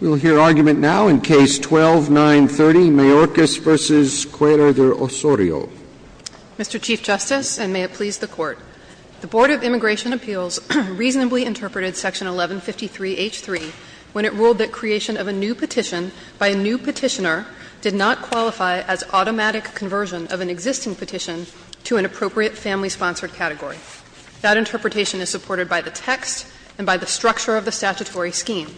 We'll hear argument now in Case 12-930, Mayorkas v. Cuellar de Osorio. Mr. Chief Justice, and may it please the Court, the Board of Immigration Appeals reasonably interpreted Section 1153H3 when it ruled that creation of a new petition by a new petitioner did not qualify as automatic conversion of an existing petition to an appropriate family-sponsored category. That interpretation is supported by the text and by the structure of the statutory scheme.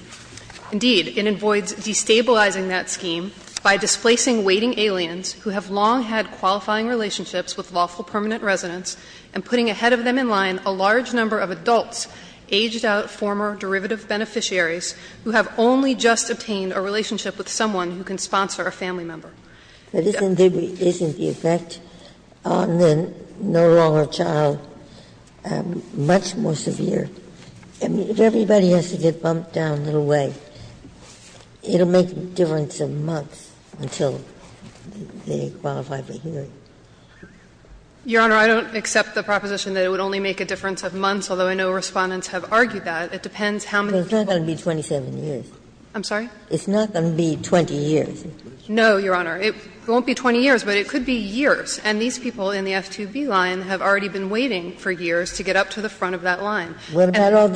Indeed, it avoids destabilizing that scheme by displacing waiting aliens who have long had qualifying relationships with lawful permanent residents, and putting ahead of them in line a large number of adults, aged out former derivative beneficiaries, who have only just obtained a relationship with someone who can sponsor a family member. But isn't the effect on the no longer child much more severe? I mean, if everybody has to get bumped down a little way, it will make a difference of months until they qualify for hearing. Your Honor, I don't accept the proposition that it would only make a difference of months, although I know Respondents have argued that. It depends how many people. It's not going to be 27 years. I'm sorry? It's not going to be 20 years. No, Your Honor. It won't be 20 years, but it could be years. And these people in the F2B line have already been waiting for years to get up to the front of that line. And I think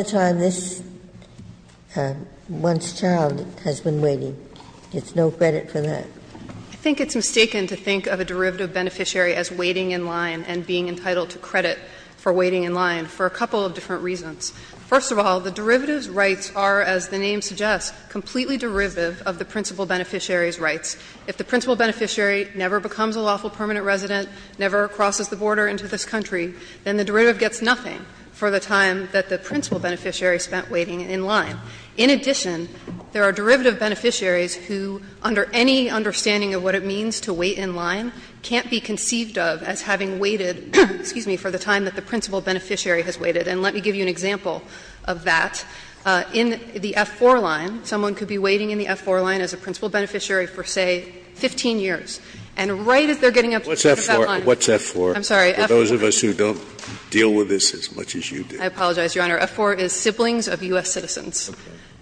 it's a mistake to think of a derivative beneficiary as waiting in line and being entitled to credit for waiting in line for a couple of different reasons. First of all, the derivatives rights are, as the name suggests, completely derivative of the principal beneficiary's rights. If the principal beneficiary never becomes a lawful permanent resident, never crosses the border into this country, then the derivative gets nothing for the time that the principal beneficiary spent waiting in line. In addition, there are derivative beneficiaries who, under any understanding of what it means to wait in line, can't be conceived of as having waited, excuse me, for the time that the principal beneficiary has waited. And let me give you an example of that. In the F4 line, someone could be waiting in the F4 line as a principal beneficiary for, say, 15 years. And right as they're getting up to the front of that line. Scalia What's F4? For those of us who don't deal with this as much as you do. Saharsky I apologize, Your Honor. F4 is siblings of U.S. citizens.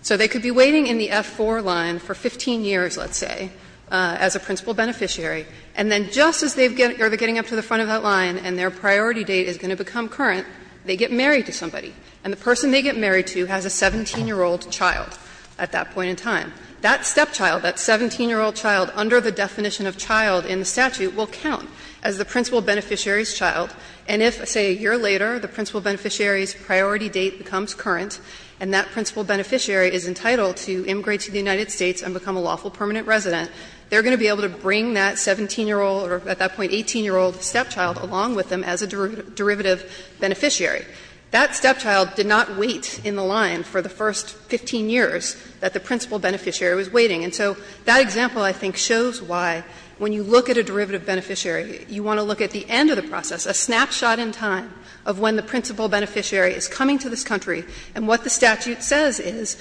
So they could be waiting in the F4 line for 15 years, let's say, as a principal beneficiary, and then just as they're getting up to the front of that line and their priority date is going to become current, they get married to somebody. And the person they get married to has a 17-year-old child at that point in time. That stepchild, that 17-year-old child under the definition of child in the statute will count as the principal beneficiary's child. And if, say, a year later, the principal beneficiary's priority date becomes current and that principal beneficiary is entitled to immigrate to the United States and become a lawful permanent resident, they're going to be able to bring that 17-year-old or at that point 18-year-old stepchild along with them as a derivative beneficiary. That stepchild did not wait in the line for the first 15 years that the principal beneficiary was waiting. And so that example, I think, shows why, when you look at a derivative beneficiary, you want to look at the end of the process, a snapshot in time of when the principal beneficiary is coming to this country. And what the statute says is,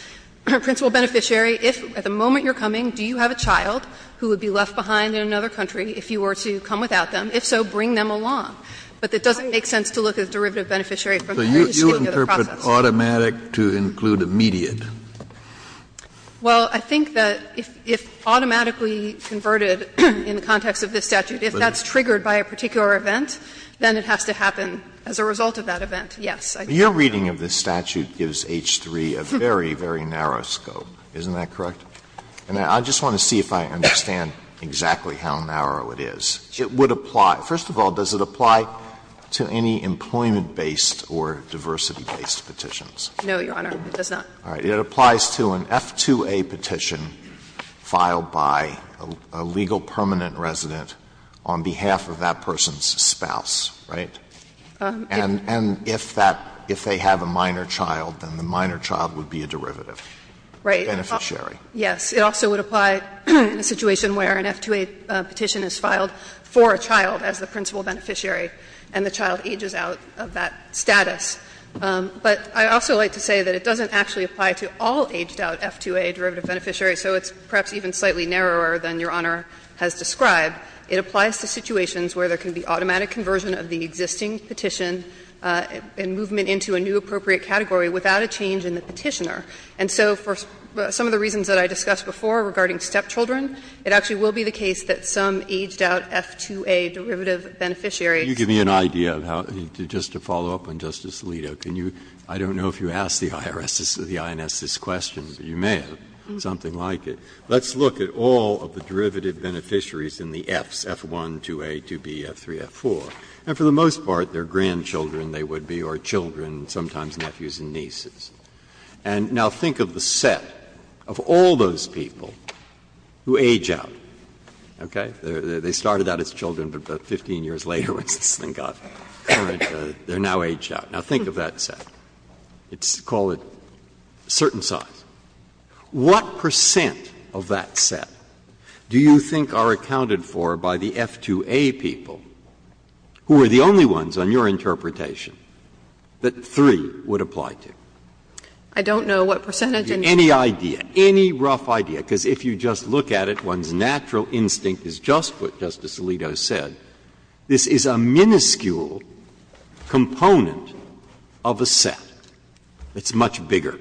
principal beneficiary, if at the moment you're coming, do you have a child who would be left behind in another country if you were to come without them? If so, bring them along. But it doesn't make sense to look at the derivative beneficiary from the very beginning of the process. Kennedy, you interpret automatic to include immediate. Well, I think that if automatically converted in the context of this statute, if that's triggered by a particular event, then it has to happen as a result of that event, yes. Alito, your reading of this statute gives H-3 a very, very narrow scope. Isn't that correct? And I just want to see if I understand exactly how narrow it is. It would apply to any employment-based or diversity-based petitions. No, Your Honor, it does not. It applies to an F-2A petition filed by a legal permanent resident on behalf of that person's spouse, right? And if that they have a minor child, then the minor child would be a derivative. Right. Beneficiary. Yes. It also would apply in a situation where an F-2A petition is filed for a child as the principal beneficiary and the child ages out of that status. But I'd also like to say that it doesn't actually apply to all aged-out F-2A derivative beneficiaries, so it's perhaps even slightly narrower than Your Honor has described. It applies to situations where there can be automatic conversion of the existing petition and movement into a new appropriate category without a change in the petitioner. And so for some of the reasons that I discussed before regarding stepchildren, it actually will be the case that some aged-out F-2A derivative beneficiaries You give me an idea of how, just to follow up on Justice Alito, can you, I don't know if you asked the IRS or the INS this question, but you may have, something like it. Let's look at all of the derivative beneficiaries in the Fs, F-1, 2A, 2B, F-3, F-4. And for the most part, they're grandchildren, they would be, or children, sometimes nephews and nieces. And now think of the set of all those people who age out, okay? They started out as children, but about 15 years later, when this thing got current, they're now aged out. Now, think of that set. It's called a certain size. What percent of that set do you think are accounted for by the F-2A people, who are the only ones on your interpretation, that 3 would apply to? I don't know what percentage. Any idea, any rough idea, because if you just look at it, one's natural instinct is just what Justice Alito said. This is a minuscule component of a set. It's much bigger.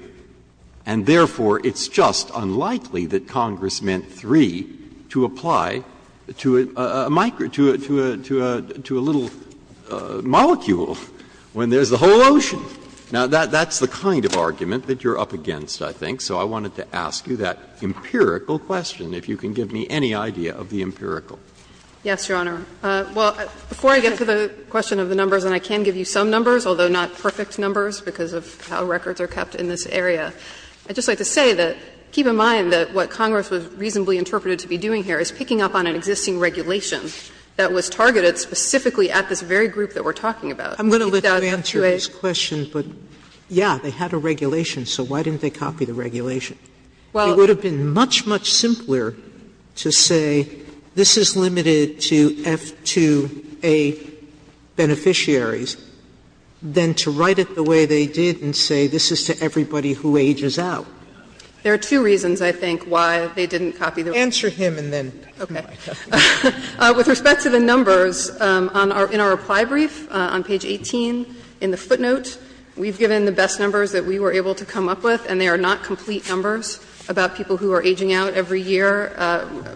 And therefore, it's just unlikely that Congress meant 3 to apply to a micro to a little molecule when there's the whole ocean. Now, that's the kind of argument that you're up against, I think. So I wanted to ask you that empirical question, if you can give me any idea of the empirical. Yes, Your Honor. Well, before I get to the question of the numbers, and I can give you some numbers, although not perfect numbers because of how records are kept in this area, I'd just like to say that keep in mind that what Congress was reasonably interpreted to be doing here is picking up on an existing regulation that was targeted specifically at this very group that we're talking about. I'm going to let you answer this question, but, yeah, they had a regulation, so why didn't they copy the regulation? It would have been much, much simpler to say this is limited to F2A beneficiaries than to write it the way they did and say this is to everybody who ages out. There are two reasons, I think, why they didn't copy the regulation. Answer him and then come back. Okay. With respect to the numbers, in our reply brief on page 18 in the footnote, we've given the best numbers that we were able to come up with, and they are not complete numbers about people who are aging out every year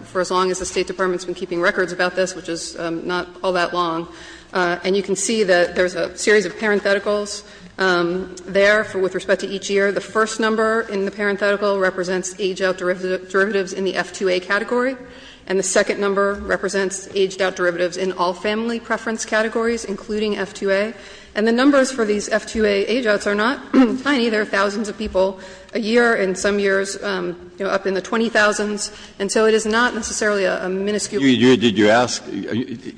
for as long as the State Department has been keeping records about this, which is not all that long. And you can see that there's a series of parentheticals there with respect to each year. The first number in the parenthetical represents age-out derivatives in the F2A category, and the second number represents aged-out derivatives in all family preference categories, including F2A. And the numbers for these F2A age-outs are not tiny. There are thousands of people a year and some years, you know, up in the 20,000s. And so it is not necessarily a minuscule number. Breyer, did you ask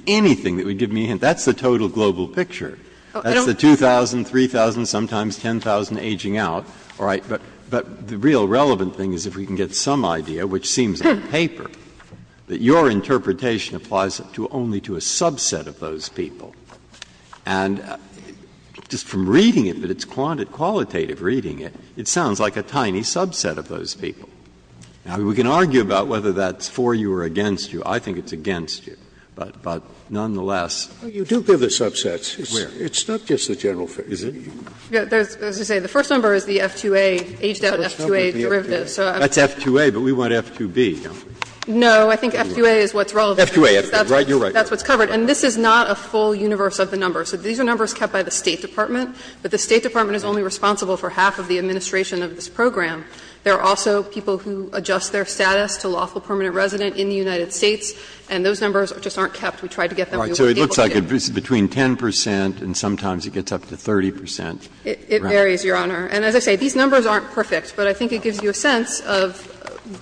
anything that would give me a hint? That's the total global picture. That's the 2,000, 3,000, sometimes 10,000 aging out. All right. But the real relevant thing is if we can get some idea, which seems on paper, that your interpretation applies only to a subset of those people. And just from reading it, but it's quantitative reading it, it sounds like a tiny subset of those people. Now, we can argue about whether that's for you or against you. I think it's against you. But nonetheless. Scalia, you do give the subsets. It's not just the general figure. Is it? There's, as I say, the first number is the F2A, aged-out F2A derivatives. That's F2A, but we want F2B, don't we? No, I think F2A is what's relevant. F2A, right, you're right. That's what's covered. And this is not a full universe of the numbers. These are numbers kept by the State Department, but the State Department is only responsible for half of the administration of this program. There are also people who adjust their status to lawful permanent resident in the United States, and those numbers just aren't kept. We tried to get them. Breyer, so it looks like it's between 10 percent and sometimes it gets up to 30 percent. It varies, Your Honor. And as I say, these numbers aren't perfect, but I think it gives you a sense of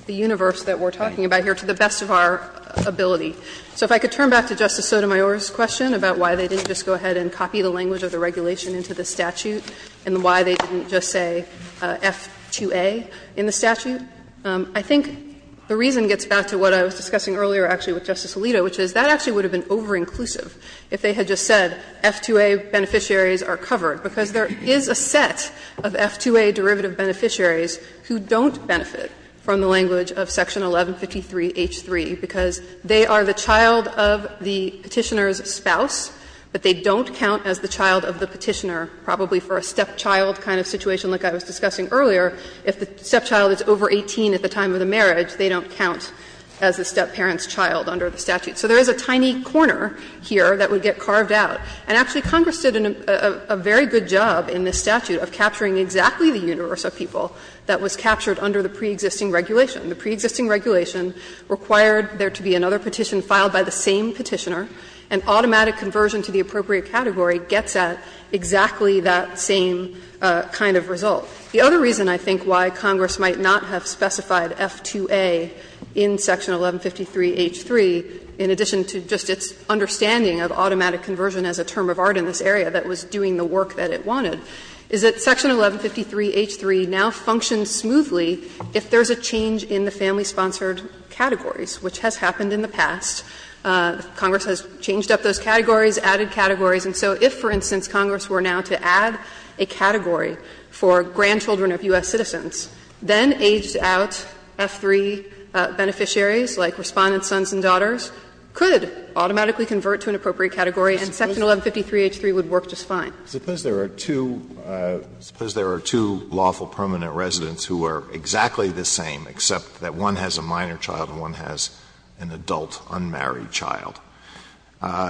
the universe that we're talking about here to the best of our ability. So if I could turn back to Justice Sotomayor's question about why they didn't just go ahead and copy the language of the regulation into the statute and why they didn't just say F2A in the statute, I think the reason gets back to what I was discussing earlier, actually, with Justice Alito, which is that actually would have been over-inclusive if they had just said F2A beneficiaries are covered, because there is a set of F2A derivative beneficiaries who don't benefit from the language of section 1153h3, because they are the child of the Petitioner's spouse, but they don't count as the child of the Petitioner, probably for a stepchild kind of situation like I was discussing earlier. If the stepchild is over 18 at the time of the marriage, they don't count as the stepparent's child under the statute. So there is a tiny corner here that would get carved out. And actually Congress did a very good job in this statute of capturing exactly the universe of people that was captured under the preexisting regulation. The preexisting regulation required there to be another petition filed by the same Petitioner, and automatic conversion to the appropriate category gets at exactly that same kind of result. The other reason I think why Congress might not have specified F2A in section 1153h3, in addition to just its understanding of automatic conversion as a term of art in this area that was doing the work that it wanted, is that section 1153h3 now functions smoothly if there is a change in the family-sponsored categories, which has happened in the past. Congress has changed up those categories, added categories, and so if, for instance, Congress were now to add a category for grandchildren of U.S. citizens, then aged-out F3 beneficiaries, like Respondents' sons and daughters, could automatically convert to an appropriate category, and section 1153h3 would work just fine. Alito, suppose there are two lawful permanent residents who are exactly the same, except that one has a minor child and one has an adult unmarried child.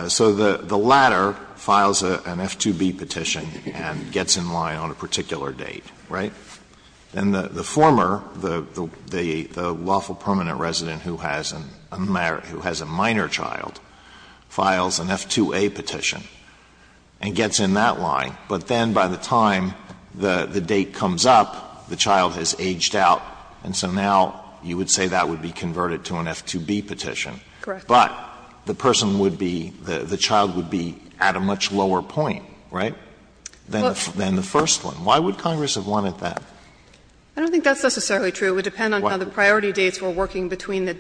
So the latter files an F2B petition and gets in line on a particular date, right? Then the former, the lawful permanent resident who has a minor child, files an F2A petition and gets in that line, but then by the time the date comes up, the child has aged out, and so now you would say that would be converted to an F2B petition. But the person would be, the child would be at a much lower point, right, than the first one. Why would Congress have wanted that? I don't think that's necessarily true. It would depend on how the priority dates were working between the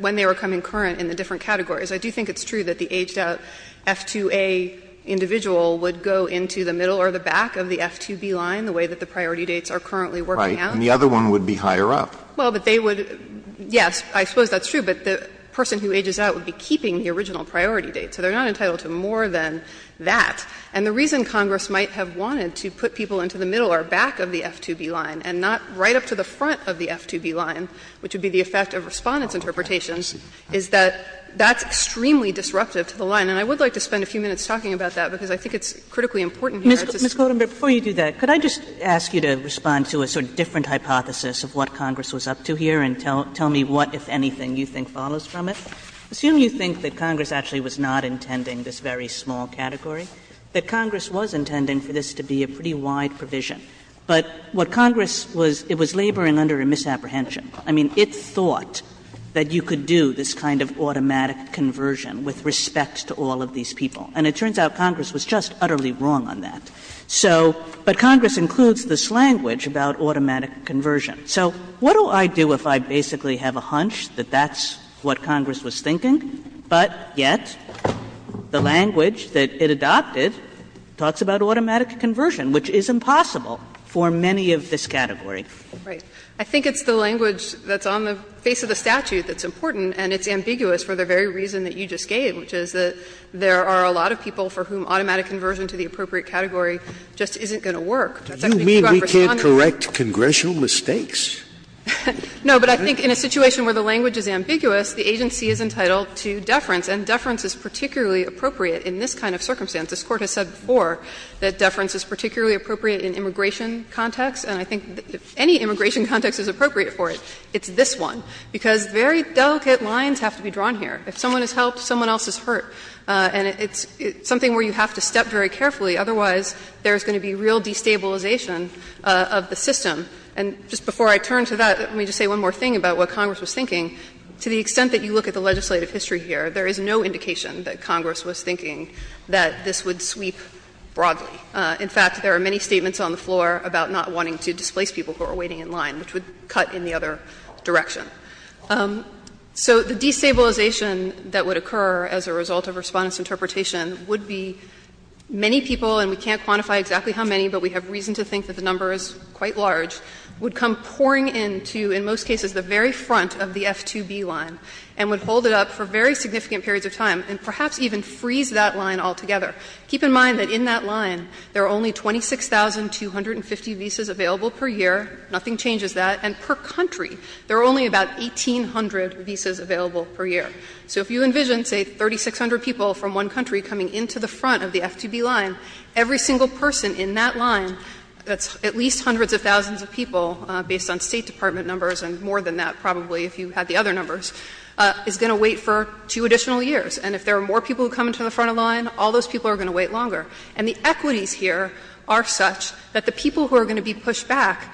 when they were coming current in the different categories. I do think it's true that the aged out F2A individual would go into the middle or the back of the F2B line, the way that the priority dates are currently working out. Alito, and the other one would be higher up. Well, but they would, yes, I suppose that's true, but the person who ages out would be keeping the original priority date. So they are not entitled to more than that. And the reason Congress might have wanted to put people into the middle or back of the F2B line and not right up to the front of the F2B line, which would be the effect of Respondent's interpretations, is that that's extremely disruptive to the line. And I would like to spend a few minutes talking about that, because I think it's critically important here. It's a small category. Kagan Ms. Klootman, before you do that, could I just ask you to respond to a sort of different hypothesis of what Congress was up to here and tell me what, if anything, you think follows from it? Assume you think that Congress actually was not intending this very small category, that Congress was intending for this to be a pretty wide provision. But what Congress was, it was laboring under a misapprehension. I mean, it thought that you could do this kind of automatic conversion with respect to all of these people. And it turns out Congress was just utterly wrong on that. So, but Congress includes this language about automatic conversion. So what do I do if I basically have a hunch that that's what Congress was thinking, but yet the language that it adopted talks about automatic conversion, which is impossible for many of this category? Klootman I think it's the language that's on the face of the statute that's important, and it's ambiguous for the very reason that you just gave, which is that there are a lot of people for whom automatic conversion to the appropriate category just isn't It's actually too unresponsive. Scalia Do you mean we can't correct congressional mistakes? Klootman No, but I think in a situation where the language is ambiguous, the agency is entitled to deference, and deference is particularly appropriate in this kind of circumstance. This Court has said before that deference is particularly appropriate in immigration context, and I think if any immigration context is appropriate for it, it's this one, because very delicate lines have to be drawn here. If someone is helped, someone else is hurt. And it's something where you have to step very carefully, otherwise there's going to be real destabilization of the system. And just before I turn to that, let me just say one more thing about what Congress was thinking. To the extent that you look at the legislative history here, there is no indication that Congress was thinking that this would sweep broadly. In fact, there are many statements on the floor about not wanting to displace people who are waiting in line, which would cut in the other direction. So the destabilization that would occur as a result of Respondent's interpretation would be many people, and we can't quantify exactly how many, but we have reason to think that the number is quite large, would come pouring into, in most cases, the very front of the F2B line, and would hold it up for very significant periods of time, and perhaps even freeze that line altogether. Keep in mind that in that line, there are only 26,250 visas available per year, nothing changes that, and per country, there are only about 1,800 visas available per year. So if you envision, say, 3,600 people from one country coming into the front of the F2B line, every single person in that line, that's at least hundreds of thousands of people, based on State Department numbers and more than that probably if you had the other numbers, is going to wait for two additional years. And if there are more people who come into the front of the line, all those people are going to wait longer. And the equities here are such that the people who are going to be pushed back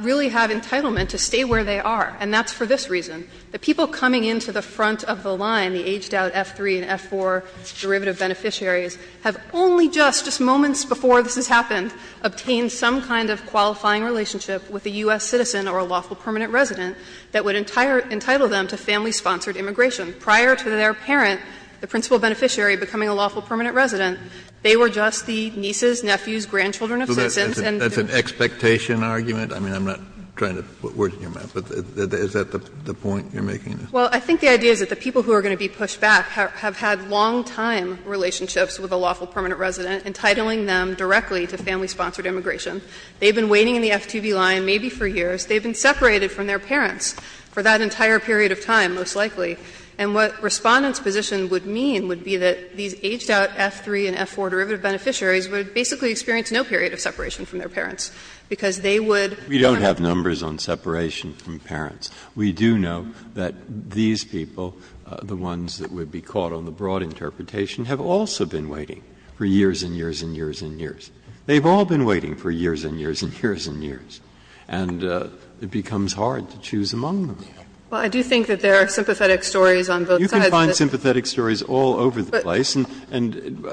really have entitlement to stay where they are, and that's for this reason. The people coming into the front of the line, the aged-out F3 and F4 derivative beneficiaries, have only just, just moments before this has happened, obtained some kind of qualifying relationship with a U.S. citizen or a lawful permanent resident that would entitle them to family-sponsored immigration prior to their parent, the principal beneficiary, becoming a lawful permanent resident. They were just the nieces, nephews, grandchildren of citizens and students. Kennedy, that's an expectation argument? I mean, I'm not trying to put words on your mouth, but is that the point you're making? Well, I think the idea is that the people who are going to be pushed back have had long-time relationships with a lawful permanent resident, entitling them directly to family-sponsored immigration. They've been waiting in the F2B line maybe for years. They've been separated from their parents for that entire period of time, most likely. And what Respondent's position would mean would be that these aged-out F3 and F4 derivative beneficiaries would basically experience no period of separation from their parents, because they would not have to be separated. Breyer, we don't have numbers on separation from parents. We do know that these people, the ones that would be caught on the broad interpretation, have also been waiting for years and years and years and years. They've all been waiting for years and years and years and years. And it becomes hard to choose among them. Well, I do think that there are sympathetic stories on both sides. You can find sympathetic stories all over the place. And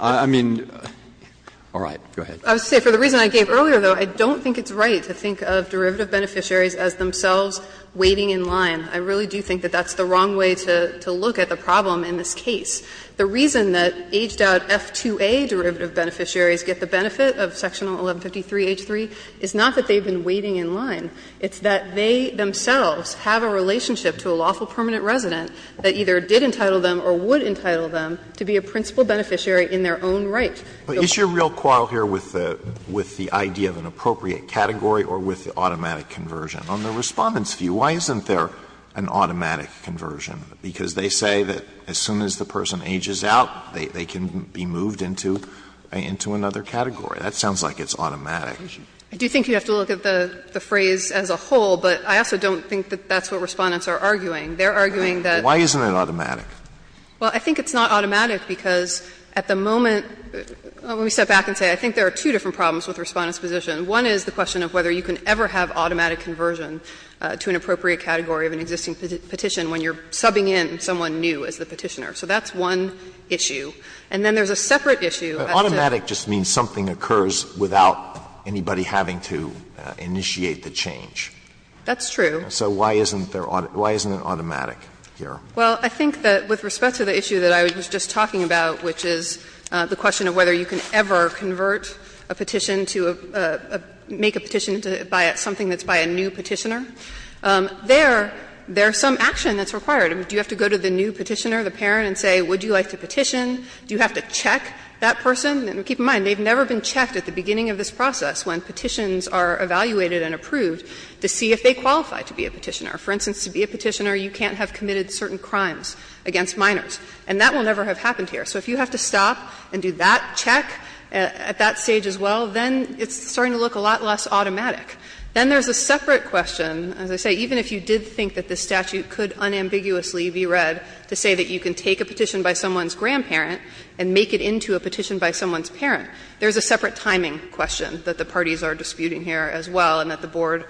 I mean, all right, go ahead. I would say for the reason I gave earlier, though, I don't think it's right to think of derivative beneficiaries as themselves waiting in line. I really do think that that's the wrong way to look at the problem in this case. The reason that aged-out F2A derivative beneficiaries get the benefit of section 1153H3 is not that they've been waiting in line. It's that they themselves have a relationship to a lawful permanent resident that either did entitle them or would entitle them to be a principal beneficiary in their own right. Alito, is your real quarrel here with the idea of an appropriate category or with the automatic conversion? On the Respondent's view, why isn't there an automatic conversion? Because they say that as soon as the person ages out, they can be moved into another category. That sounds like it's automatic. I do think you have to look at the phrase as a whole, but I also don't think that that's what Respondents are arguing. They're arguing that why isn't it automatic? Well, I think it's not automatic because at the moment, let me step back and say I think there are two different problems with Respondent's position. One is the question of whether you can ever have automatic conversion to an appropriate category of an existing petition when you're subbing in someone new as the petitioner. So that's one issue. And then there's a separate issue. Alito, automatic just means something occurs without anybody having to initiate the change. That's true. So why isn't there an automatic here? Well, I think that with respect to the issue that I was just talking about, which is the question of whether you can ever convert a petition to a make a petition to buy something that's by a new petitioner, there is some action that's required. Do you have to go to the new petitioner, the parent, and say would you like to petition? Do you have to check that person? And keep in mind, they've never been checked at the beginning of this process when petitions are evaluated and approved to see if they qualify to be a petitioner. For instance, to be a petitioner, you can't have committed certain crimes against minors, and that will never have happened here. So if you have to stop and do that check at that stage as well, then it's starting to look a lot less automatic. Then there's a separate question, as I say, even if you did think that this statute could unambiguously be read to say that you can take a petition by someone's grandparent and make it into a petition by someone's parent, there's a separate timing question that the parties are disputing here as well and that the Board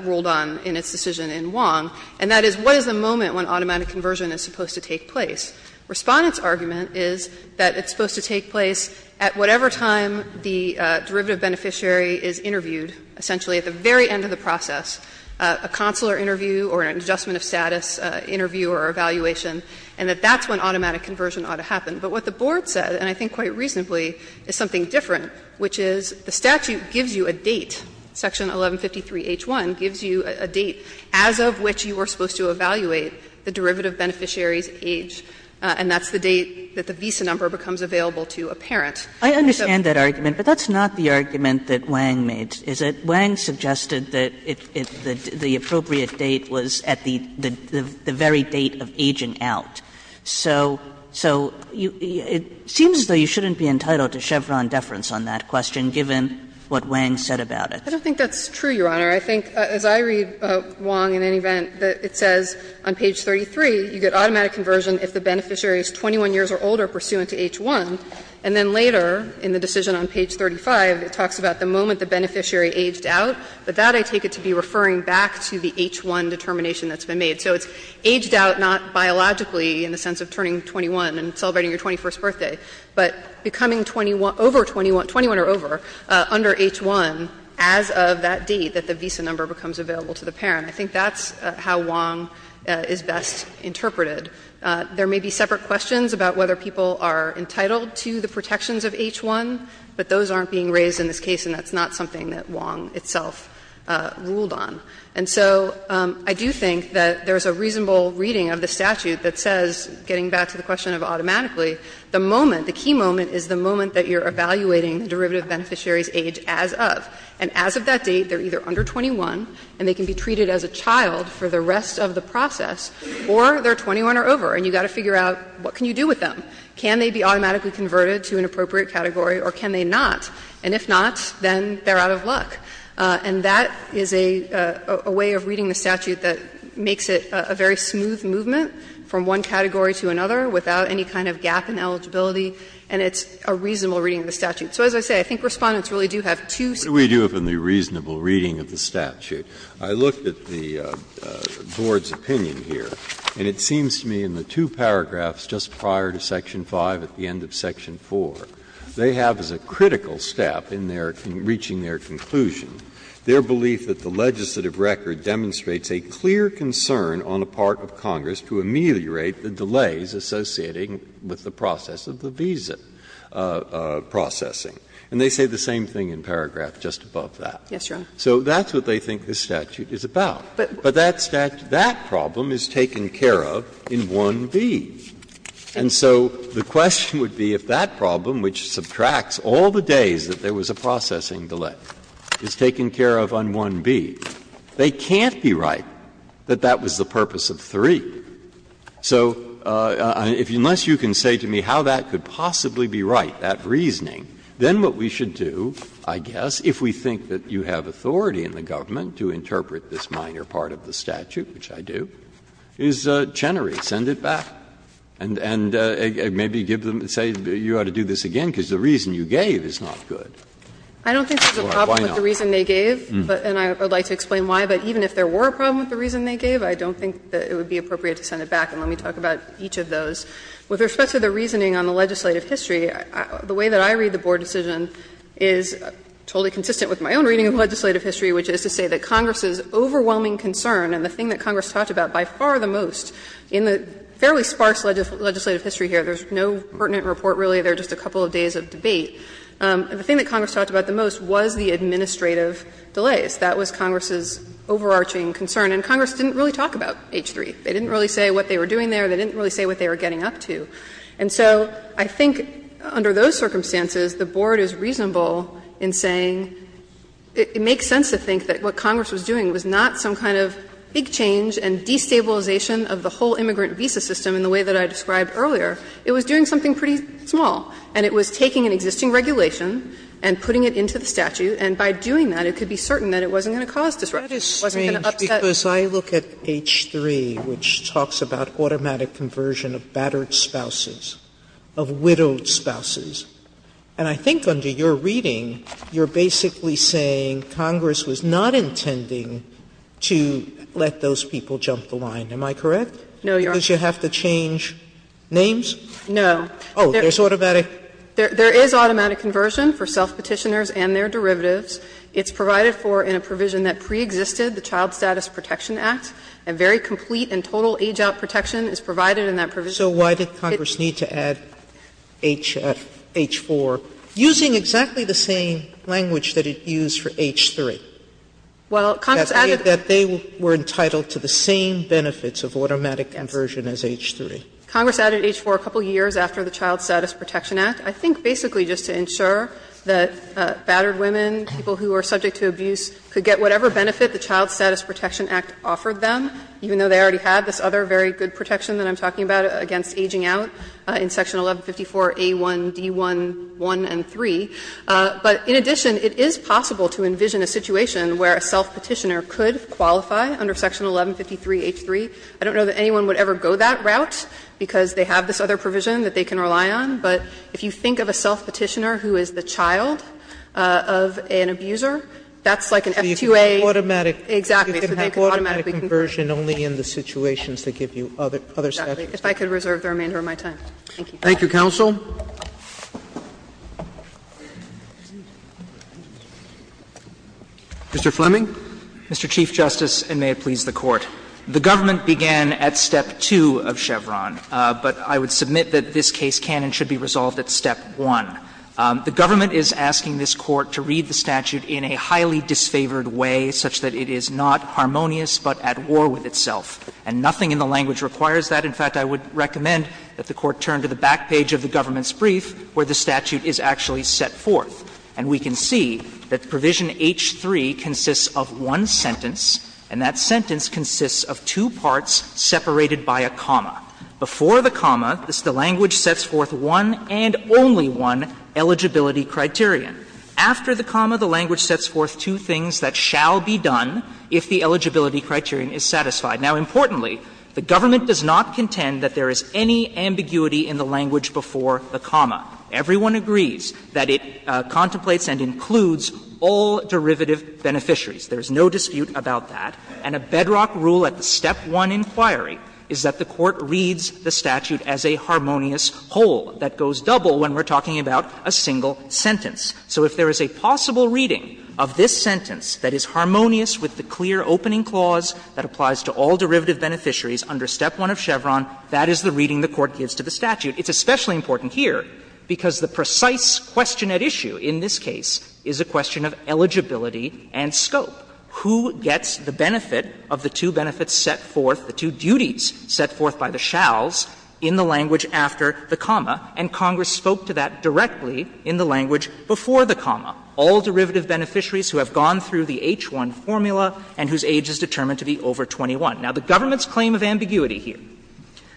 ruled on in its decision in Wong, and that is what is the moment when automatic conversion is supposed to take place? Respondent's argument is that it's supposed to take place at whatever time the derivative beneficiary is interviewed, essentially at the very end of the process. A consular interview or an adjustment of status interview or evaluation, and that that's when automatic conversion ought to happen. But what the Board said, and I think quite reasonably, is something different, which is the statute gives you a date, Section 1153h1, gives you a date as of which you are supposed to evaluate the derivative beneficiary's age, and that's the date that the visa number becomes available to a parent. Kagan's argument, but that's not the argument that Wang made, is it? Wang suggested that the appropriate date was at the very date of aging out. So it seems as though you shouldn't be entitled to Chevron deference on that question, given what Wang said about it. I don't think that's true, Your Honor. I think, as I read Wong in any event, that it says on page 33, you get automatic conversion if the beneficiary is 21 years or older pursuant to H1, and then later in the decision on page 35, it talks about the moment the beneficiary aged out, but that I take it to be referring back to the H1 determination that's been made. So it's aged out not biologically in the sense of turning 21 and celebrating your 21st birthday, but becoming 21 or over under H1 as of that date that the visa number becomes available to the parent. I think that's how Wang is best interpreted. There may be separate questions about whether people are entitled to the protections of H1, but those aren't being raised in this case, and that's not something that Wang itself ruled on. And so I do think that there's a reasonable reading of the statute that says, getting back to the question of automatically, the moment, the key moment, is the moment that you're evaluating the derivative beneficiary's age as of. And as of that date, they're either under 21 and they can be treated as a child for the rest of the process, or they're 21 or over and you've got to figure out what can you do with them. Can they be automatically converted to an appropriate category, or can they not? And if not, then they're out of luck. And that is a way of reading the statute that makes it a very smooth movement from one category to another without any kind of gap in eligibility, and it's a reasonable reading of the statute. So as I say, I think Respondents really do have two separate views. Breyer, what do we do from the reasonable reading of the statute? I looked at the Board's opinion here, and it seems to me in the two paragraphs just prior to section 5 at the end of section 4, they have as a critical step in their reaching their conclusion their belief that the legislative record demonstrates a clear concern on the part of Congress to ameliorate the delays associating with the process of the visa processing. And they say the same thing in paragraph just above that. So that's what they think this statute is about. But that statute, that problem is taken care of in 1B. And so the question would be if that problem, which subtracts all the days that there was a processing delay, is taken care of on 1B, they can't be right that that was the purpose of 3. So unless you can say to me how that could possibly be right, that reasoning, then what we should do, I guess, if we think that you have authority in the government to interpret this minor part of the statute, which I do, is Chenery, send it back. And maybe give them, say, you ought to do this again, because the reason you gave is not good. Why not? Anderson I don't think there's a problem with the reason they gave, and I would like to explain why. But even if there were a problem with the reason they gave, I don't think that it would be appropriate to send it back. And let me talk about each of those. With respect to the reasoning on the legislative history, the way that I read the board decision is totally consistent with my own reading of legislative history, which is to say that Congress's overwhelming concern and the thing that Congress talked about by far the most in the fairly sparse legislative history here, there's no pertinent report really, they're just a couple of days of debate, the thing that Congress talked about the most was the administrative delays. That was Congress's overarching concern. And Congress didn't really talk about H-3. They didn't really say what they were doing there. They didn't really say what they were getting up to. And so I think under those circumstances, the board is reasonable in saying it makes sense to think that what Congress was doing was not some kind of big change and deep destabilization of the whole immigrant visa system in the way that I described earlier. It was doing something pretty small, and it was taking an existing regulation and putting it into the statute, and by doing that, it could be certain that it wasn't going to cause disruption, it wasn't going to upset. Sotomayor, because I look at H-3, which talks about automatic conversion of battered spouses, of widowed spouses, and I think under your reading, you're basically saying Congress was not intending to let those people jump the line. Am I correct? No, Your Honor. Because you have to change names? No. Oh, there's automatic? There is automatic conversion for self-petitioners and their derivatives. It's provided for in a provision that preexisted the Child Status Protection Act, and very complete and total age-out protection is provided in that provision. So why did Congress need to add H-4? Using exactly the same language that it used for H-3. Well, Congress added that they were entitled to the same benefits of automatic conversion as H-3. Congress added H-4 a couple of years after the Child Status Protection Act, I think basically just to ensure that battered women, people who are subject to abuse, could get whatever benefit the Child Status Protection Act offered them, even though they already had this other very good protection that I'm talking about against ageing out in Section 1154a1, d1, 1, and 3. But in addition, it is possible to envision a situation where a self-petitioner could qualify under Section 1153h3. I don't know that anyone would ever go that route because they have this other provision that they can rely on, but if you think of a self-petitioner who is the child of an abuser, that's like an F2A. Sotomayor So you can have automatic conversion only in the situations that give you other statutes. If I could reserve the remainder of my time. Thank you. Roberts Thank you, counsel. Mr. Fleming. Fleming Mr. Chief Justice, and may it please the Court. The government began at step 2 of Chevron, but I would submit that this case can and should be resolved at step 1. The government is asking this Court to read the statute in a highly disfavored way such that it is not harmonious but at war with itself. And nothing in the language requires that. In fact, I would recommend that the Court turn to the back page of the government's brief where the statute is actually set forth. And we can see that Provision H3 consists of one sentence, and that sentence consists of two parts separated by a comma. Before the comma, the language sets forth one and only one eligibility criterion. After the comma, the language sets forth two things that shall be done if the eligibility criterion is satisfied. Now, importantly, the government does not contend that there is any ambiguity in the language before the comma. Everyone agrees that it contemplates and includes all derivative beneficiaries. There is no dispute about that. And a bedrock rule at the step 1 inquiry is that the Court reads the statute as a harmonious whole that goes double when we're talking about a single sentence. So if there is a possible reading of this sentence that is harmonious with the clear opening clause that applies to all derivative beneficiaries under step 1 of Chevron, that is the reading the Court gives to the statute. It's especially important here, because the precise question at issue in this case is a question of eligibility and scope. Who gets the benefit of the two benefits set forth, the two duties set forth by the shalls in the language after the comma? And Congress spoke to that directly in the language before the comma. All derivative beneficiaries who have gone through the H-1 formula and whose age is determined to be over 21. Now, the government's claim of ambiguity here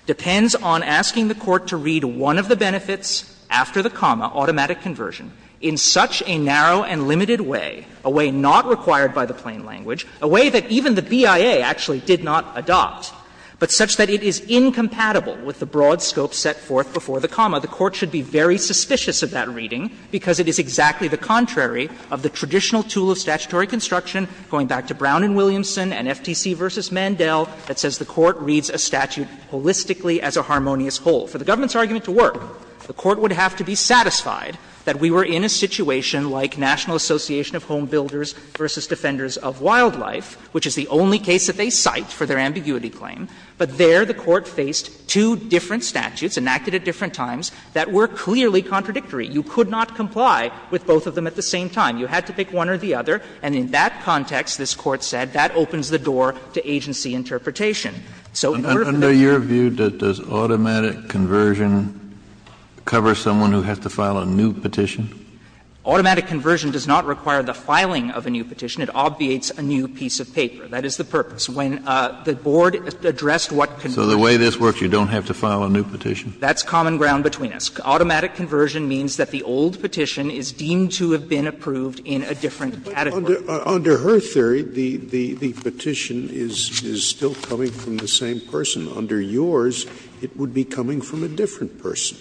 depends on asking the Court to read one of the benefits after the comma, automatic conversion, in such a narrow and limited way, a way not required by the plain language, a way that even the BIA actually did not adopt, but such that it is incompatible with the broad scope set forth before the comma. The Court should be very suspicious of that reading, because it is exactly the contrary of the traditional tool of statutory construction, going back to Brown v. Williamson and FTC v. Mandel, that says the Court reads a statute holistically as a harmonious whole. For the government's argument to work, the Court would have to be satisfied that we were in a situation like National Association of Home Builders v. Defenders of Wildlife, which is the only case that they cite for their ambiguity claim, but there the Court faced two different statutes, enacted at different times, that were clearly contradictory. You could not comply with both of them at the same time. You had to pick one or the other, and in that context, this Court said, that opens the door to agency interpretation. So in order to be fair to the government's argument, the Court would have to be satisfied of Wildlife, which is the only case that they cite for their ambiguity claim, but there the Court faced two different statutes, enacted at different times, that were clearly contradictory. You could not comply with both of them at the same time. So the way this works, you don't have to file a new petition? That's common ground between us. Automatic conversion means that the old petition is deemed to have been approved in a different category. But under her theory, the petition is still coming from the same person. Under yours, it would be coming from a different person.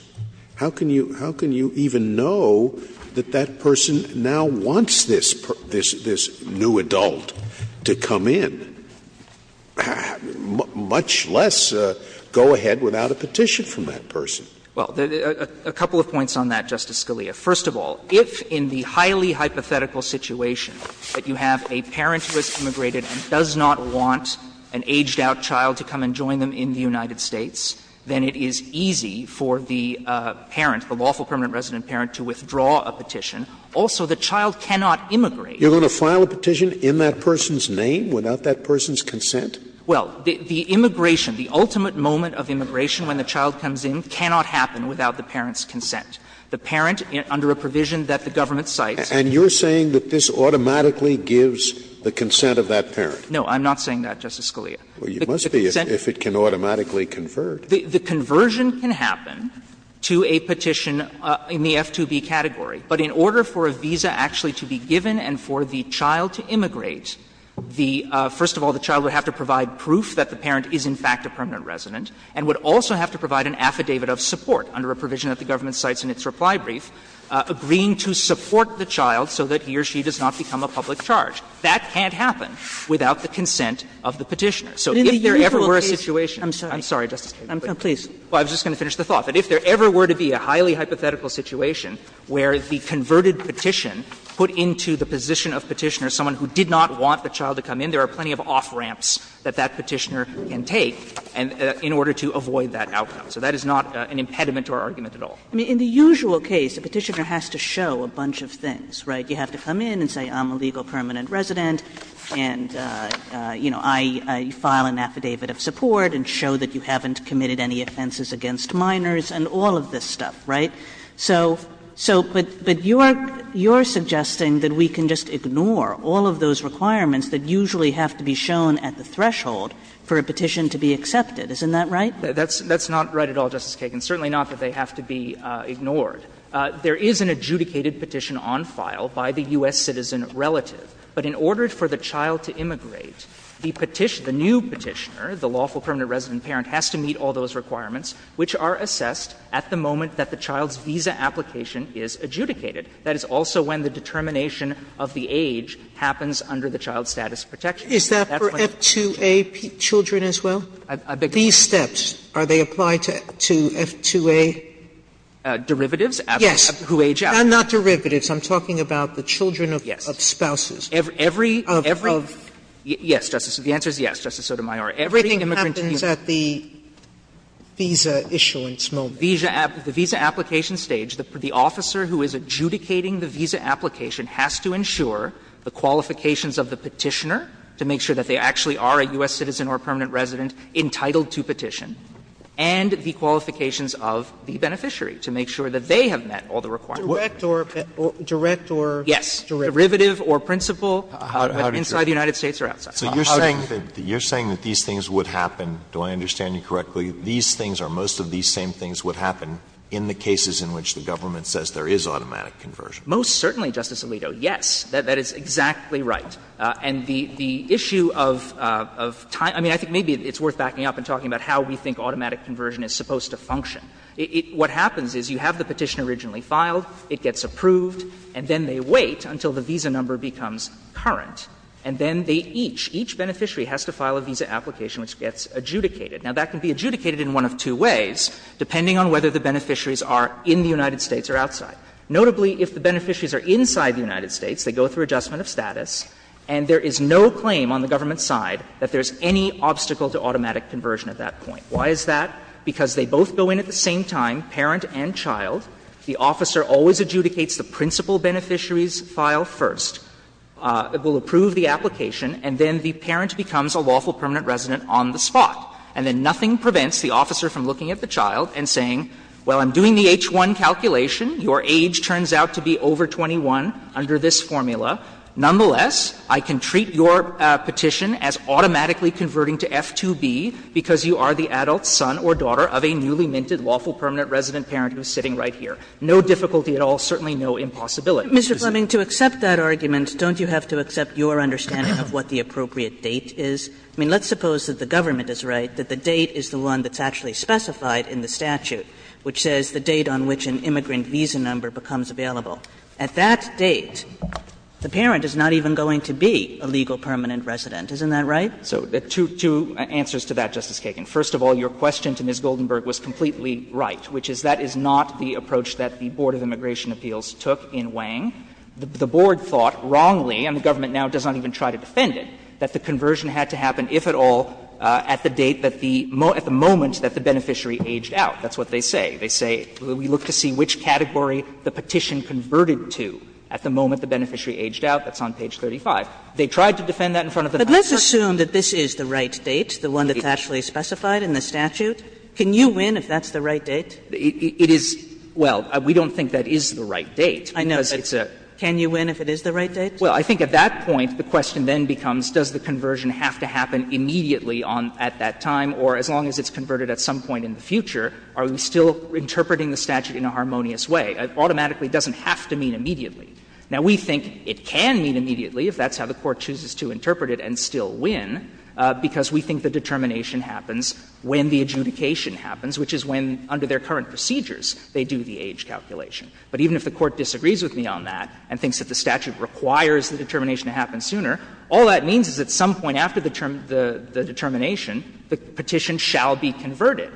How can you even know that that person now wants this new adult to come in? Much less go ahead without a petition from that person. Well, a couple of points on that, Justice Scalia. First of all, if in the highly hypothetical situation that you have a parent who has immigrated and does not want an aged-out child to come and join them in the United States, then it is easy for the parent, the lawful permanent resident parent, to withdraw a petition. Also, the child cannot immigrate. You're going to file a petition in that person's name, without that person's consent? Well, the immigration, the ultimate moment of immigration when the child comes in, cannot happen without the parent's consent. The parent, under a provision that the government cites. And you're saying that this automatically gives the consent of that parent? No, I'm not saying that, Justice Scalia. Well, you must be, if it can automatically convert. The conversion can happen to a petition in the F2B category. But in order for a visa actually to be given and for the child to immigrate, the — first of all, the child would have to provide proof that the parent is in fact a permanent resident, and would also have to provide an affidavit of support under a provision that the government cites in its reply brief, agreeing to support the child so that he or she does not become a public charge. That can't happen without the consent of the petitioner. So if there ever were a situation. I'm sorry, Justice Kagan, but I was just going to finish the thought. That if there ever were to be a highly hypothetical situation where the converted petition put into the position of Petitioner someone who did not want the child to come in, there are plenty of off-ramps that that Petitioner can take in order to avoid that outcome. So that is not an impediment to our argument at all. Kagan in the usual case, the Petitioner has to show a bunch of things, right? You have to come in and say I'm a legal permanent resident, and, you know, I file an affidavit of support and show that you haven't committed any offenses against minors and all of this stuff, right? So, but you're suggesting that we can just ignore all of those requirements that usually have to be shown at the threshold for a petition to be accepted. Isn't that right? That's not right at all, Justice Kagan. Certainly not that they have to be ignored. There is an adjudicated petition on file by the U.S. citizen relative. But in order for the child to immigrate, the petitioner, the new Petitioner, the lawful permanent resident parent, has to meet all those requirements which are assessed at the moment that the child's visa application is adjudicated. That is also when the determination of the age happens under the child status Sotomayor, is that for F2A children as well? These steps, are they applied to F2A? Derivatives? Yes. Who age out. And not derivatives. I'm talking about the children of spouses. Every, every, every. Yes, Justice. The answer is yes, Justice Sotomayor. Everything immigrant to U.S. Everything happens at the visa issuance moment. At the visa application stage, the officer who is adjudicating the visa application has to ensure the qualifications of the Petitioner to make sure that they actually are a U.S. citizen or permanent resident entitled to petition, and the qualifications of the beneficiary to make sure that they have met all the requirements. Direct or. Yes. Derivative or principal, whether inside the United States or outside. So you're saying that these things would happen, do I understand you correctly, these things or most of these same things would happen in the cases in which the government says there is automatic conversion? Most certainly, Justice Alito, yes. That is exactly right. And the issue of time – I mean, I think maybe it's worth backing up and talking about how we think automatic conversion is supposed to function. What happens is you have the Petitioner originally filed, it gets approved, and then they wait until the visa number becomes current, and then they each, each beneficiary has to file a visa application which gets adjudicated. Now, that can be adjudicated in one of two ways, depending on whether the beneficiaries are in the United States or outside. Notably, if the beneficiaries are inside the United States, they go through adjustment of status, and there is no claim on the government's side that there is any obstacle to automatic conversion at that point. Why is that? Because they both go in at the same time, parent and child. The officer always adjudicates the principal beneficiary's file first. It will approve the application, and then the parent becomes a lawful permanent resident on the spot. And then nothing prevents the officer from looking at the child and saying, well, I'm doing the H-1 calculation, your age turns out to be over 21 under this formula. Nonetheless, I can treat your petition as automatically converting to F-2B because you are the adult son or daughter of a newly minted lawful permanent resident parent who is sitting right here. No difficulty at all, certainly no impossibility. Kagan. Kagan Mr. Fleming, to accept that argument, don't you have to accept your understanding of what the appropriate date is? I mean, let's suppose that the government is right, that the date is the one that's actually specified in the statute which says the date on which an immigrant visa number becomes available. At that date, the parent is not even going to be a legal permanent resident. Isn't that right? Fleming So to answer to that, Justice Kagan. First of all, your question to Ms. Goldenberg was completely right, which is that that is not the approach that the Board of Immigration Appeals took in Wang. The Board thought, wrongly, and the government now does not even try to defend it, that the conversion had to happen, if at all, at the date that the at the moment that the beneficiary aged out. That's what they say. They say, we look to see which category the petition converted to at the moment the beneficiary aged out. That's on page 35. They tried to defend that in front of the Congress. Kagan But let's assume that this is the right date, the one that's actually specified in the statute. Can you win if that's the right date? Fleming It is — well, we don't think that is the right date. Kagan I know, but can you win if it is the right date? Fleming Well, I think at that point, the question then becomes, does the conversion have to happen immediately at that time, or as long as it's converted at some point in the future, are we still interpreting the statute in a harmonious way? Automatically, it doesn't have to mean immediately. Now, we think it can mean immediately, if that's how the Court chooses to interpret it, and still win, because we think the determination happens when the adjudication happens, which is when, under their current procedures, they do the age calculation. But even if the Court disagrees with me on that and thinks that the statute requires the determination to happen sooner, all that means is at some point after the determination, the petition shall be converted.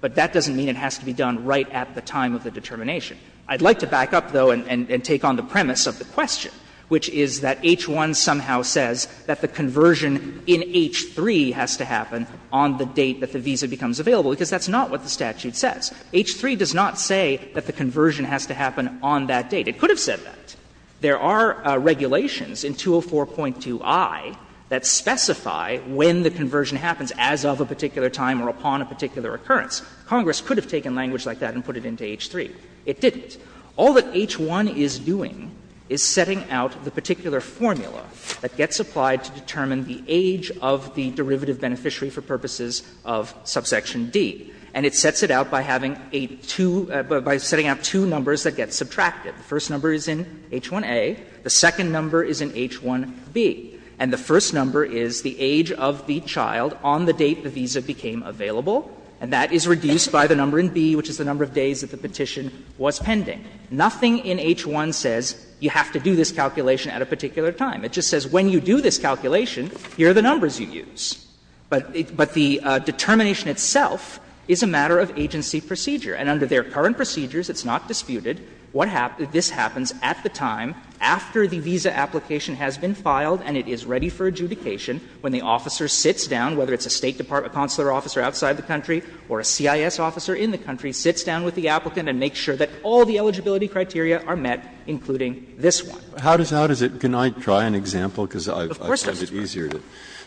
But that doesn't mean it has to be done right at the time of the determination. I'd like to back up, though, and take on the premise of the question, which is that H-1 somehow says that the conversion in H-3 has to happen on the date that the visa becomes available, because that's not what the statute says. H-3 does not say that the conversion has to happen on that date. It could have said that. There are regulations in 204.2i that specify when the conversion happens, as of a particular time or upon a particular occurrence. Congress could have taken language like that and put it into H-3. It didn't. All that H-1 is doing is setting out the particular formula that gets applied to determine the age of the derivative beneficiary for purposes of subsection D. And it sets it out by having a two by setting up two numbers that get subtracted. The first number is in H-1a. The second number is in H-1b. And the first number is the age of the child on the date the visa became available, and that is reduced by the number in b, which is the number of days that the petition was pending. Nothing in H-1 says you have to do this calculation at a particular time. It just says when you do this calculation, here are the numbers you use. But the determination itself is a matter of agency procedure. And under their current procedures, it's not disputed, what happens at the time after the visa application has been filed and it is ready for adjudication, when the officer sits down, whether it's a State Department consular officer outside the country or a CIS officer in the country, sits down with the applicant and makes sure that all the eligibility criteria are met, including this one. Breyer, can I try an example, because I find it easier to.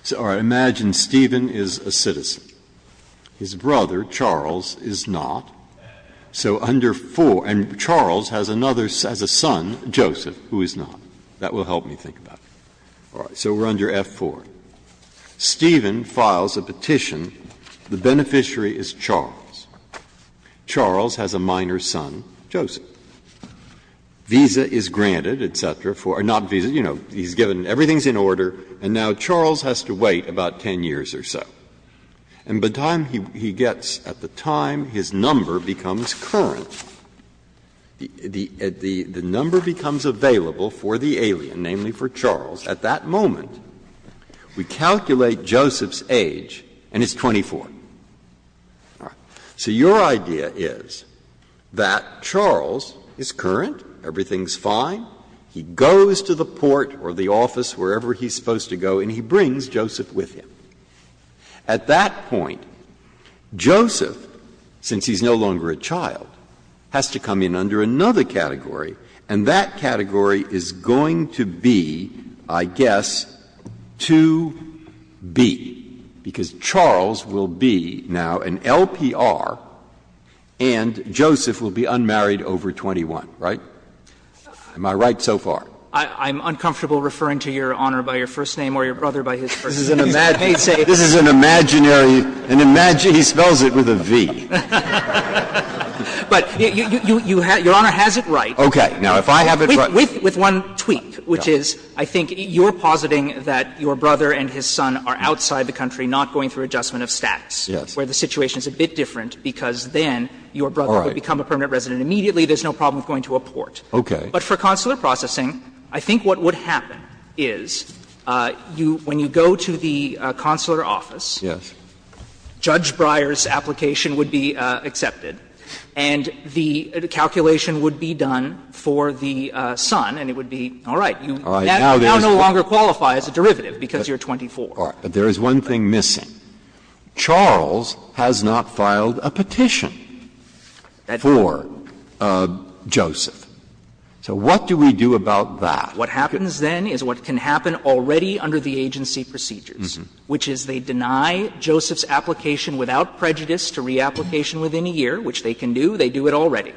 Sotomayor, imagine Stephen is a citizen. His brother, Charles, is not. So under 4, and Charles has another, has a son, Joseph, who is not. That will help me think about it. So we are under F-4. Stephen files a petition. The beneficiary is Charles. Charles has a minor son, Joseph. Visa is granted, et cetera. He's given, everything is in order, and now Charles has to wait about 10 years or so. And by the time he gets, at the time his number becomes current, the number becomes available for the alien, namely for Charles. At that moment, we calculate Joseph's age, and it's 24. So your idea is that Charles is current, everything is fine, he gets his visa, he's married, he goes to the port or the office, wherever he's supposed to go, and he brings Joseph with him. At that point, Joseph, since he's no longer a child, has to come in under another category, and that category is going to be, I guess, 2B, because Charles will be now an LPR and Joseph will be unmarried over 21, right? Am I right so far? I'm uncomfortable referring to Your Honor by your first name or your brother by his first name. This is an imaginary, he spells it with a V. But Your Honor has it right. Okay. Now, if I have it right. With one tweak, which is, I think you're positing that your brother and his son are outside the country, not going through adjustment of status, where the situation is a bit different, because then your brother could become a permanent resident and immediately there's no problem with going to a port. Okay. But for consular processing, I think what would happen is you, when you go to the consular office, Judge Breyer's application would be accepted, and the calculation would be done for the son, and it would be, all right, you now no longer qualify as a derivative, because you're 24. But there is one thing missing. Charles has not filed a petition for Joseph. So what do we do about that? What happens then is what can happen already under the agency procedures, which is they deny Joseph's application without prejudice to reapplication within a year, which they can do. They do it already.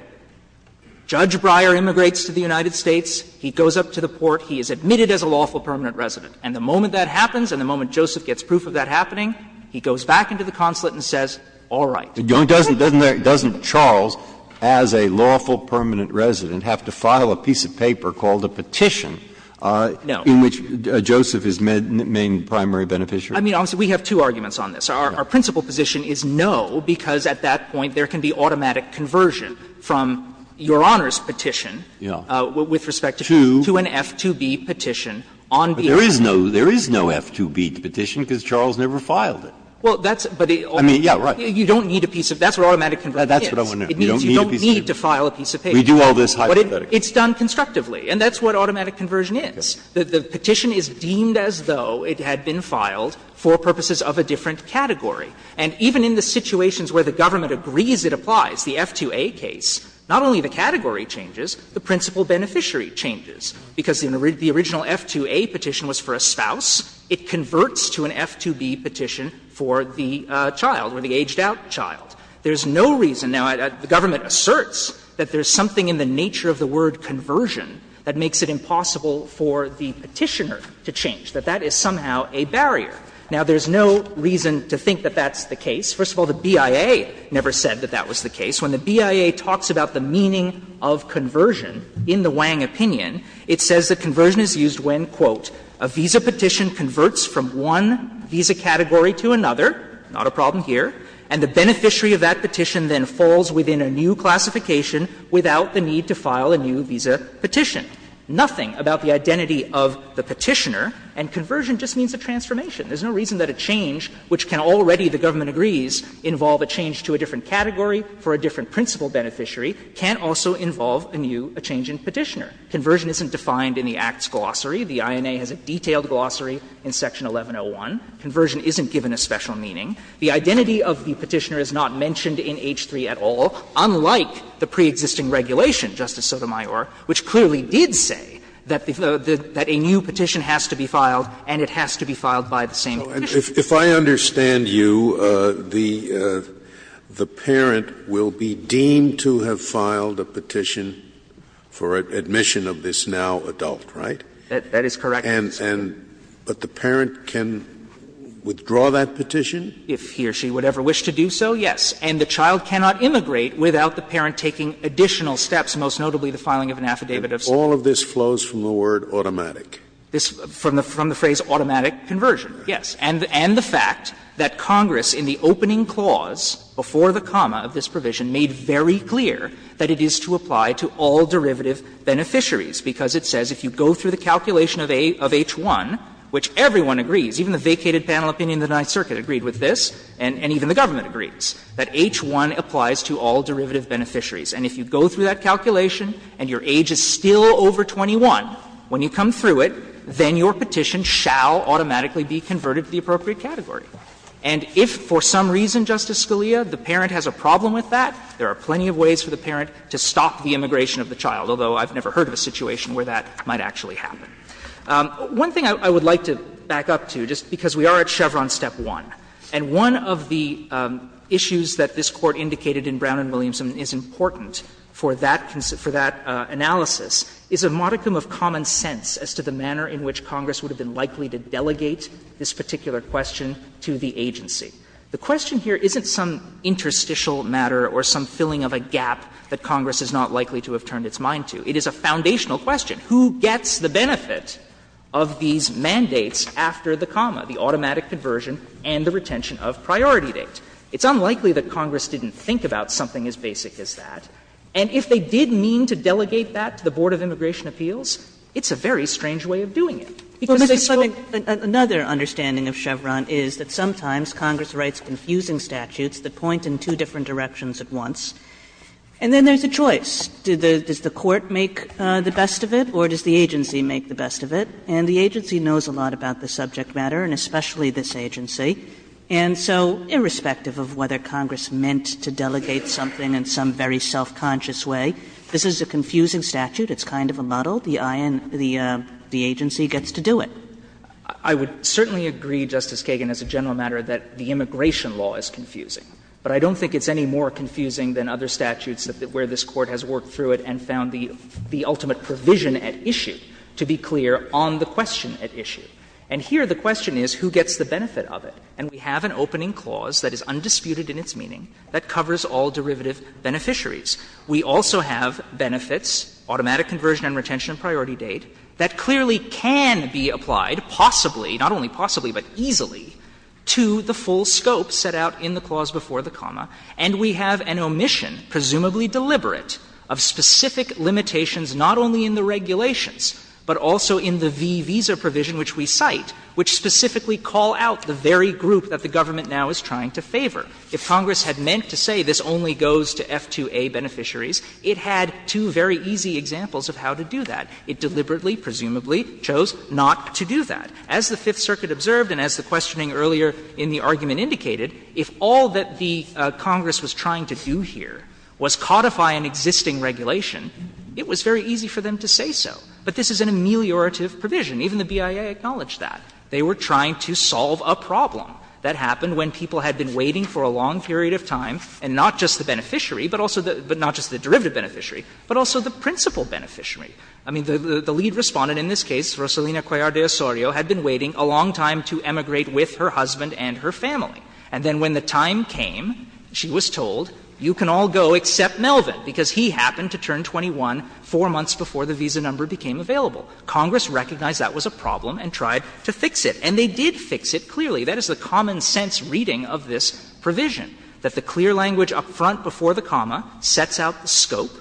Judge Breyer immigrates to the United States. He goes up to the port. He is admitted as a lawful permanent resident. And the moment that happens, and the moment Joseph gets proof of that happening, he goes back into the consulate and says, all right. Breyer, doesn't Charles, as a lawful permanent resident, have to file a piece of paper called a petition in which Joseph is main primary beneficiary? I mean, obviously, we have two arguments on this. Our principal position is no, because at that point there can be automatic conversion from Your Honor's petition with respect to an F2B petition on behalf of Joseph. There is no F2B petition because Charles never filed it. I mean, yeah, right. You don't need a piece of that's what automatic conversion is. That's what I want to know. You don't need a piece of paper. You don't need to file a piece of paper. We do all this hypothetically. It's done constructively, and that's what automatic conversion is. The petition is deemed as though it had been filed for purposes of a different category. And even in the situations where the government agrees it applies, the F2A case, not only the category changes, the principal beneficiary changes. Because the original F2A petition was for a spouse, it converts to an F2B petition for the child or the aged out child. There is no reason now the government asserts that there is something in the nature of the word conversion that makes it impossible for the petitioner to change, that that is somehow a barrier. Now, there is no reason to think that that's the case. First of all, the BIA never said that that was the case. When the BIA talks about the meaning of conversion in the Wang opinion, it says that conversion is used when, quote, a visa petition converts from one visa category to another, not a problem here, and the beneficiary of that petition then falls within a new classification without the need to file a new visa petition. Nothing about the identity of the petitioner, and conversion just means a transformation. There is no reason that a change, which can already, the government agrees, involve a change to a different category for a different principal beneficiary, can also involve a new, a change in petitioner. Conversion isn't defined in the Act's glossary. The INA has a detailed glossary in section 1101. Conversion isn't given a special meaning. The identity of the petitioner is not mentioned in H-3 at all, unlike the preexisting regulation, Justice Sotomayor, which clearly did say that a new petition has to be filed and it has to be filed by the same petitioner. Scalia, if I understand you, the parent will be deemed to have filed a petition for admission of this now adult, right? That is correct, Your Honor. And, but the parent can withdraw that petition? If he or she would ever wish to do so, yes. And the child cannot immigrate without the parent taking additional steps, most notably the filing of an affidavit of citizenship. If all of this flows from the word automatic? This, from the phrase automatic conversion, yes. And the fact that Congress, in the opening clause, before the comma of this provision, made very clear that it is to apply to all derivative beneficiaries, because it says if you go through the calculation of H-1, which everyone agrees, even the vacated panel opinion in the Ninth Circuit agreed with this, and even the government agrees, that H-1 applies to all derivative beneficiaries. And if you go through that calculation and your age is still over 21, when you come through it, then your petition shall automatically be converted to the appropriate category. And if, for some reason, Justice Scalia, the parent has a problem with that, there are plenty of ways for the parent to stop the immigration of the child, although I've never heard of a situation where that might actually happen. One thing I would like to back up to, just because we are at Chevron Step 1, and one of the issues that this Court indicated in Brown v. Williamson is important for that analysis, is a modicum of common sense as to the manner in which Congress would have been likely to delegate this particular question to the agency. The question here isn't some interstitial matter or some filling of a gap that Congress is not likely to have turned its mind to. It is a foundational question. Who gets the benefit of these mandates after the comma, the automatic conversion and the retention of priority date? It's unlikely that Congress didn't think about something as basic as that. And if they did mean to delegate that to the Board of Immigration Appeals, it's a very strange way of doing it. Because they still go away. Kagan in another understanding of Chevron is that sometimes Congress writes confusing statutes that point in two different directions at once, and then there's a choice. Does the Court make the best of it or does the agency make the best of it? And the agency knows a lot about the subject matter, and especially this agency. And so irrespective of whether Congress meant to delegate something in some very self-conscious way, this is a confusing statute. It's kind of a model. The agency gets to do it. I would certainly agree, Justice Kagan, as a general matter, that the immigration law is confusing. But I don't think it's any more confusing than other statutes where this Court has worked through it and found the ultimate provision at issue, to be clear, on the question at issue. And here the question is who gets the benefit of it. And we have an opening clause that is undisputed in its meaning that covers all derivative beneficiaries. We also have benefits, automatic conversion and retention of priority date, that clearly can be applied, possibly, not only possibly, but easily, to the full scope set out in the clause before the comma. And we have an omission, presumably deliberate, of specific limitations not only in the regulations, but also in the v. visa provision which we cite, which specifically call out the very group that the government now is trying to favor. If Congress had meant to say this only goes to F2A beneficiaries, it had two very easy examples of how to do that. It deliberately, presumably, chose not to do that. As the Fifth Circuit observed and as the questioning earlier in the argument indicated, if all that the Congress was trying to do here was codify an existing regulation, it was very easy for them to say so. But this is an ameliorative provision. Even the BIA acknowledged that. They were trying to solve a problem that happened when people had been waiting for a long period of time, and not just the beneficiary, but also the – but not just the derivative beneficiary, but also the principal beneficiary. I mean, the lead Respondent in this case, Rosalina Cuellar de Osorio, had been waiting a long time to emigrate with her husband and her family. And then when the time came, she was told, you can all go except Melvin, because he happened to turn 21 four months before the visa number became available. Congress recognized that was a problem and tried to fix it. And they did fix it, clearly. That is the common sense reading of this provision, that the clear language up front before the comma sets out the scope,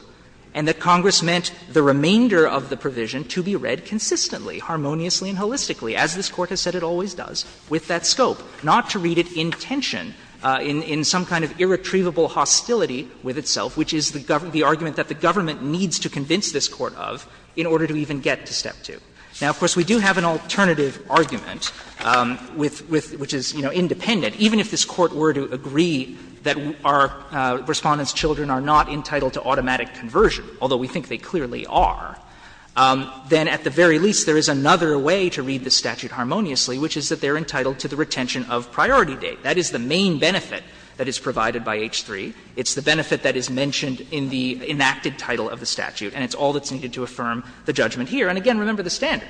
and that Congress meant the remainder of the provision to be read consistently, harmoniously and holistically, as this Court has said it always does, with that scope, not to read it in tension, in some kind of irretrievable hostility with itself, which is the argument that the government needs to convince this Court of in order to even get to Step 2. Now, of course, we do have an alternative argument with – which is, you know, independent. Even if this Court were to agree that our Respondent's children are not entitled to automatic conversion, although we think they clearly are, then at the very least there is another way to read the statute harmoniously, which is that they are entitled to the retention of priority date. That is the main benefit that is provided by H-3. It's the benefit that is mentioned in the enacted title of the statute, and it's all that's needed to affirm the judgment here. And again, remember the standard.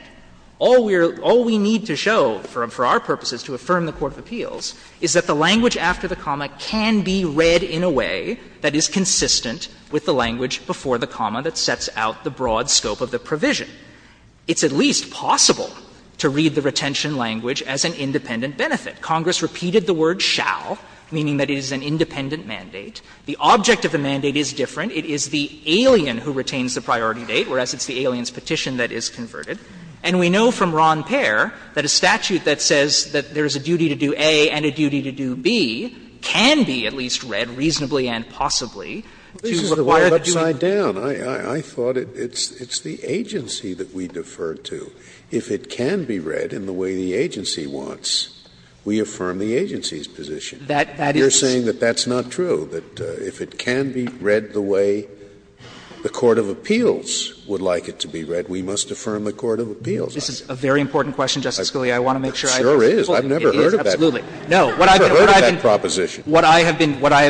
All we need to show for our purposes to affirm the court of appeals is that the language after the comma can be read in a way that is consistent with the language before the comma that sets out the broad scope of the provision. It's at least possible to read the retention language as an independent benefit. Congress repeated the word shall, meaning that it is an independent mandate. The object of the mandate is different. It is the alien who retains the priority date, whereas it's the alien's petition that is converted. And we know from Ron Payer that a statute that says that there is a duty to do A and a duty to do B can be at least read reasonably and possibly to require that you do it. Scalia, I thought it's the agency that we defer to. If it can be read in the way the agency wants, we affirm the agency's position. You're saying that that's not true, that if it can be read the way the court of appeals would like it to be read, we must affirm the court of appeals. This is a very important question, Justice Scalia. I want to make sure I've been clear. It sure is. I've never heard of that. Absolutely. No, what I've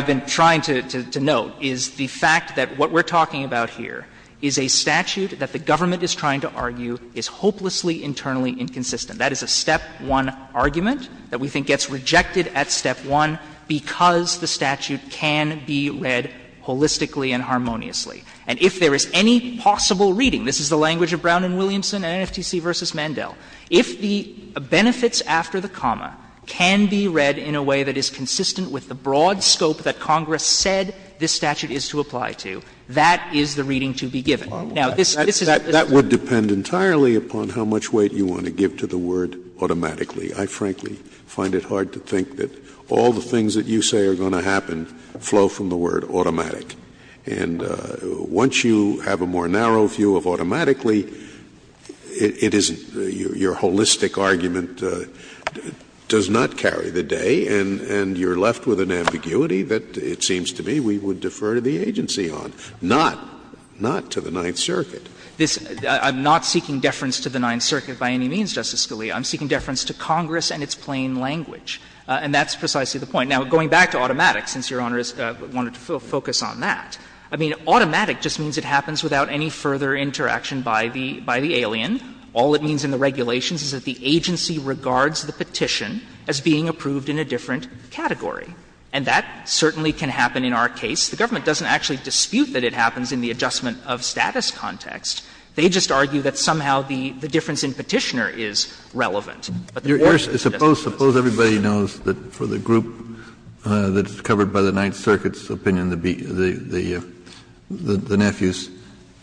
been trying to note is the fact that what we're talking about here is a statute that the government is trying to argue is hopelessly internally inconsistent. That is a step one argument that we think gets rejected at step one because the statute can be read holistically and harmoniously. And if there is any possible reading, this is the language of Brown and Williamson and NFTC v. Mandel, if the benefits after the comma can be read in a way that is consistent with the broad scope that Congress said this statute is to apply to, that is the reading to be given. Now, this is a bit of a problem. Scalia, that would depend entirely upon how much weight you want to give to the word automatically. I frankly find it hard to think that all the things that you say are going to happen flow from the word automatic. And once you have a more narrow view of automatically, it is your holistic argument does not carry the day and you're left with an ambiguity that it seems to me we would defer to the agency on. Not to the Ninth Circuit. I'm not seeking deference to the Ninth Circuit by any means, Justice Scalia. I'm seeking deference to Congress and its plain language. And that's precisely the point. Now, going back to automatic, since Your Honor wanted to focus on that, I mean, automatic just means it happens without any further interaction by the alien. All it means in the regulations is that the agency regards the petition as being approved in a different category. And that certainly can happen in our case. The government doesn't actually dispute that it happens in the adjustment-of-status context. They just argue that somehow the difference in Petitioner is relevant. Kennedy, suppose everybody knows that for the group that is covered by the Ninth Circuit's opinion, the nephews,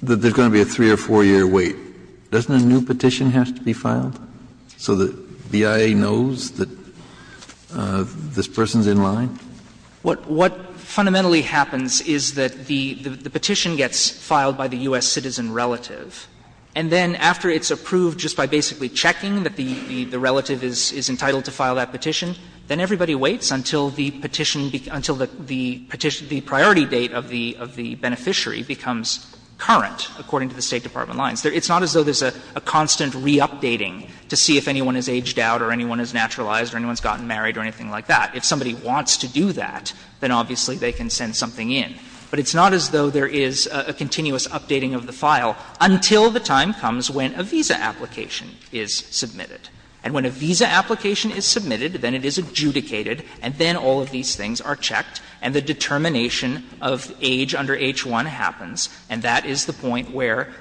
that there's going to be a 3- or 4-year wait. Doesn't a new petition have to be filed so that BIA knows that this person is in line? What fundamentally happens is that the petition gets filed by the U.S. citizen relative, and then after it's approved just by basically checking that the relative is entitled to file that petition, then everybody waits until the petition becomes the priority date of the beneficiary becomes current, according to the State Department lines. It's not as though there's a constant re-updating to see if anyone has aged out or anyone has naturalized or anyone has gotten married or anything like that. If somebody wants to do that, then obviously they can send something in. But it's not as though there is a continuous updating of the file until the time comes when a visa application is submitted. And when a visa application is submitted, then it is adjudicated, and then all of these things are checked, and the determination of age under H-1 happens, and that is the point where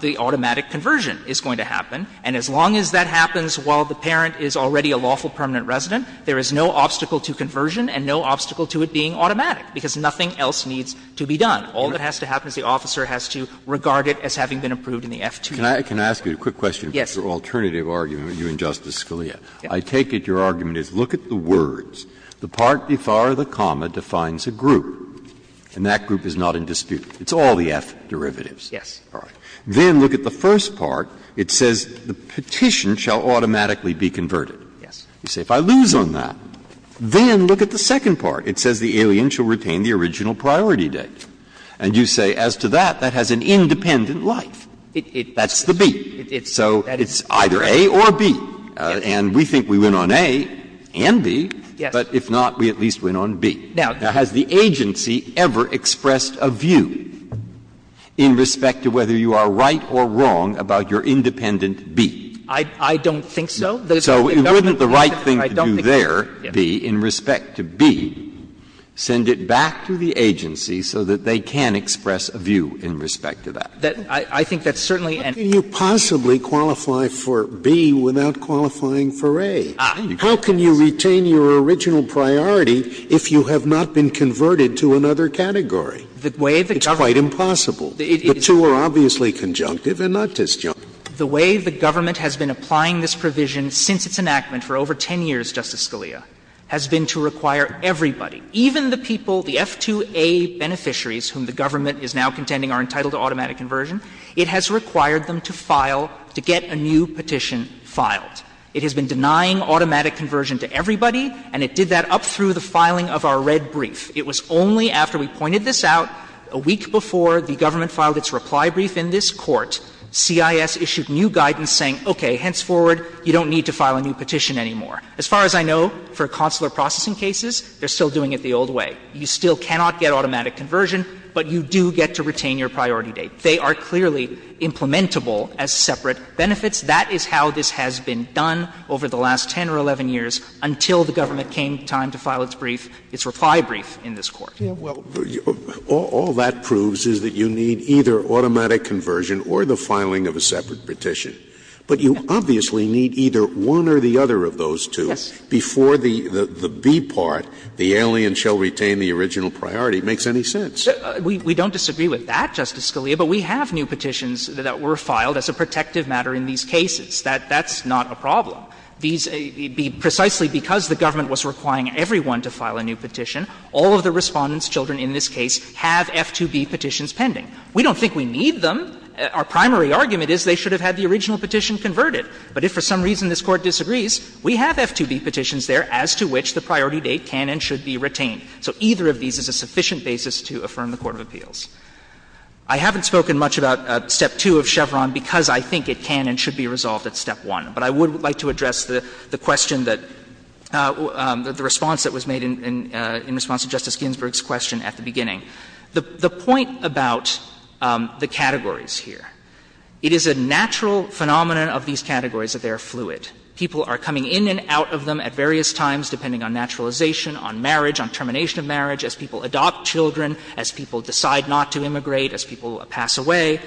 the automatic conversion is going to happen. And as long as that happens while the parent is already a lawful permanent resident, there is no obstacle to conversion and no obstacle to it being automatic, because nothing else needs to be done. All that has to happen is the officer has to regard it as having been approved in the F-2. Breyer. Can I ask you a quick question? Yes. Your alternative argument, you and Justice Scalia. I take it your argument is, look at the words. The part before the comma defines a group, and that group is not in dispute. It's all the F derivatives. Yes. All right. Then look at the first part. It says the petition shall automatically be converted. Yes. You say, if I lose on that, then look at the second part. It says the alien shall retain the original priority date. And you say, as to that, that has an independent life. That's the B. So it's either A or B, and we think we win on A and B, but if not, we at least win on B. Now, has the agency ever expressed a view in respect to whether you are right or wrong about your independent B? I don't think so. So wouldn't the right thing to do there, B, in respect to B, send it back to the agency so that they can express a view in respect to that? I think that's certainly an issue. How can you possibly qualify for B without qualifying for A? How can you retain your original priority if you have not been converted to another category? It's quite impossible. The two are obviously conjunctive and not disjunctive. The way the government has been applying this provision since its enactment for over 10 years, Justice Scalia, has been to require everybody, even the people the F2A beneficiaries whom the government is now contending are entitled to automatic conversion, it has required them to file, to get a new petition filed. It has been denying automatic conversion to everybody, and it did that up through the filing of our red brief. It was only after we pointed this out a week before the government filed its reply brief in this Court, CIS issued new guidance saying, okay, henceforward, you don't need to file a new petition anymore. As far as I know, for consular processing cases, they're still doing it the old way. You still cannot get automatic conversion, but you do get to retain your priority date. They are clearly implementable as separate benefits. That is how this has been done over the last 10 or 11 years until the government came time to file its brief, its reply brief in this Court. Scalia, well, all that proves is that you need either automatic conversion or the filing of a separate petition. But you obviously need either one or the other of those two. Yes. Before the B part, the alien shall retain the original priority, makes any sense. We don't disagree with that, Justice Scalia, but we have new petitions that were filed as a protective matter in these cases. That's not a problem. These be precisely because the government was requiring everyone to file a new petition, all of the Respondent's children in this case have F2B petitions pending. We don't think we need them. Our primary argument is they should have had the original petition converted. But if for some reason this Court disagrees, we have F2B petitions there as to which the priority date can and should be retained. So either of these is a sufficient basis to affirm the court of appeals. I haven't spoken much about Step 2 of Chevron because I think it can and should be resolved at Step 1. But I would like to address the question that the response that was made in response to Justice Ginsburg's question at the beginning. The point about the categories here, it is a natural phenomenon of these categories that they are fluid. People are coming in and out of them at various times, depending on naturalization, on marriage, on termination of marriage, as people adopt children, as people decide not to immigrate, as people pass away.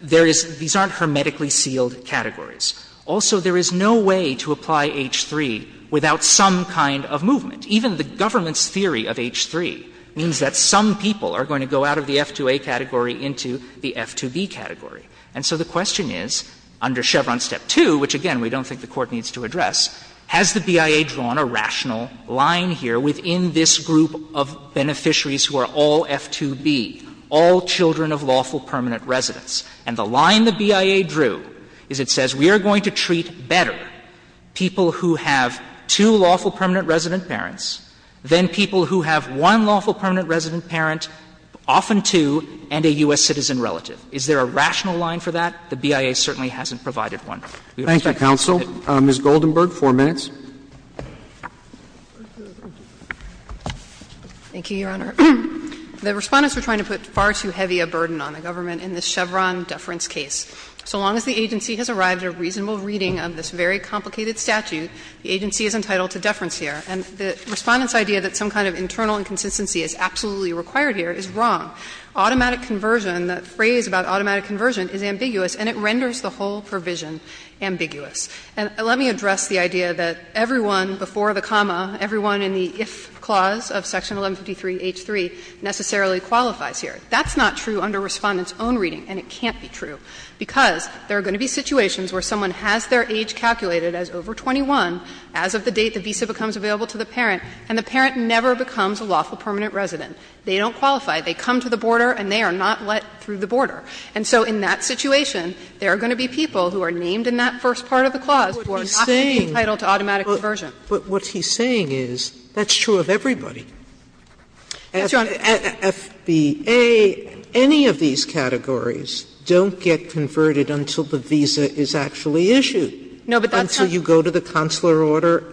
There is these aren't hermetically sealed categories. Also, there is no way to apply H-3 without some kind of movement. Even the government's theory of H-3 means that some people are going to go out of the F2A category into the F2B category. And so the question is, under Chevron Step 2, which, again, we don't think the Court needs to address, has the BIA drawn a rational line here within this group of beneficiaries who are all F2B, all children of lawful permanent residence? And the line the BIA drew is it says we are going to treat better people who have two lawful permanent resident parents than people who have one lawful permanent resident parent, often two, and a U.S. citizen relative. Is there a rational line for that? The BIA certainly hasn't provided one. Roberts. Thank you, counsel. Ms. Goldenberg, 4 minutes. Goldenberg. Thank you, Your Honor. The Respondents were trying to put far too heavy a burden on the government in this Chevron deference case. So long as the agency has arrived at a reasonable reading of this very complicated statute, the agency is entitled to deference here. And the Respondents' idea that some kind of internal inconsistency is absolutely required here is wrong. Automatic conversion, the phrase about automatic conversion is ambiguous, and it renders the whole provision ambiguous. And let me address the idea that everyone before the comma, everyone in the if clause of Section 1153 H-3 necessarily qualifies here. That's not true under Respondents' own reading, and it can't be true, because there are going to be situations where someone has their age calculated as over 21, as of the date the visa becomes available to the parent, and the parent never becomes a lawful permanent resident. They don't qualify. They come to the border and they are not let through the border. And so in that situation, there are going to be people who are named in that first part of the clause who are not entitled to automatic conversion. But what he's saying is that's true of everybody. Yes, Your Honor. Sotomayor, at FBA, any of these categories don't get converted until the visa is actually issued. No, but that's not true. Until you go to the consular order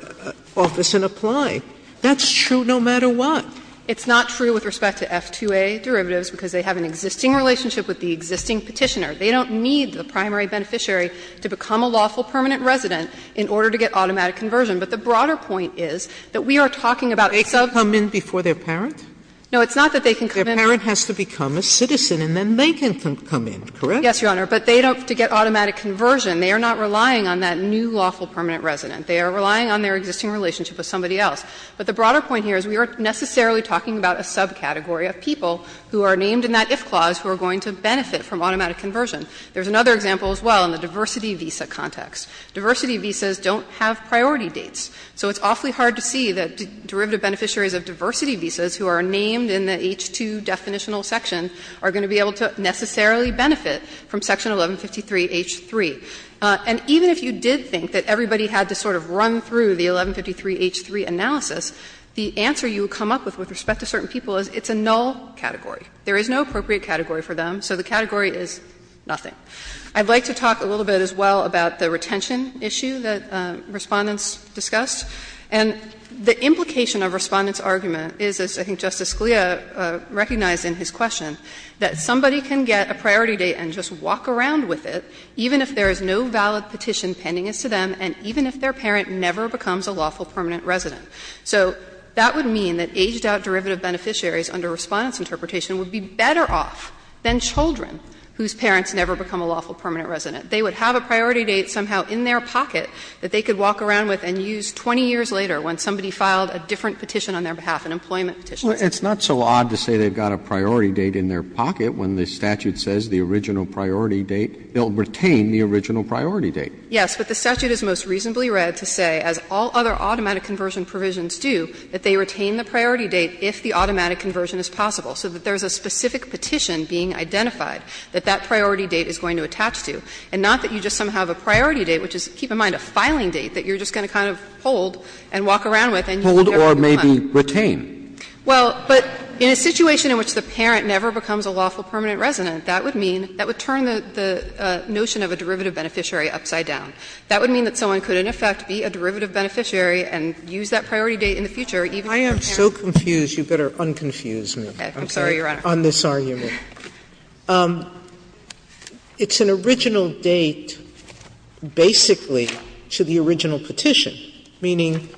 office and apply. That's true no matter what. It's not true with respect to F2A derivatives, because they have an existing relationship with the existing Petitioner. They don't need the primary beneficiary to become a lawful permanent resident in order to get automatic conversion. But the broader point is that we are talking about some of these cases. They can come in before their parent? No, it's not that they can come in. Their parent has to become a citizen, and then they can come in, correct? Yes, Your Honor. But they don't have to get automatic conversion. They are not relying on that new lawful permanent resident. They are relying on their existing relationship with somebody else. But the broader point here is we aren't necessarily talking about a subcategory of people who are named in that if clause who are going to benefit from automatic conversion. There's another example as well in the diversity visa context. Diversity visas don't have priority dates. So it's awfully hard to see that derivative beneficiaries of diversity visas who are named in the H-2 definitional section are going to be able to necessarily benefit from Section 1153 H-3. And even if you did think that everybody had to sort of run through the 1153 H-3 analysis, the answer you would come up with with respect to certain people is it's a null category. There is no appropriate category for them, so the category is nothing. I'd like to talk a little bit as well about the retention issue that Respondents discussed. And the implication of Respondent's argument is, as I think Justice Scalia recognized in his question, that somebody can get a priority date and just walk around with it, even if there is no valid petition pending as to them and even if their parent never becomes a lawful permanent resident. So that would mean that aged out derivative beneficiaries under Respondent's interpretation would be better off than children whose parents never become a lawful permanent resident. They would have a priority date somehow in their pocket that they could walk around with and use 20 years later when somebody filed a different petition on their behalf, an employment petition. Roberts. Roberts. It's not so odd to say they've got a priority date in their pocket when the statute says the original priority date, they'll retain the original priority date. Yes, but the statute is most reasonably read to say, as all other automatic conversion provisions do, that they retain the priority date if the automatic conversion is possible, so that there is a specific petition being identified that that priority date is going to attach to, and not that you just somehow have a priority date, which is, keep in mind, a filing date that you're just going to kind of hold and walk around with and you never become a lawful permanent resident. Well, but in a situation in which the parent never becomes a lawful permanent resident, that would mean, that would turn the notion of a derivative beneficiary upside down. That would mean that someone could, in effect, be a derivative beneficiary and use that priority date in the future, even if their parent never becomes a lawful permanent resident. Sotomayor, I'm sorry, Your Honor. On this argument, it's an original date, basically, to the original petition, meaning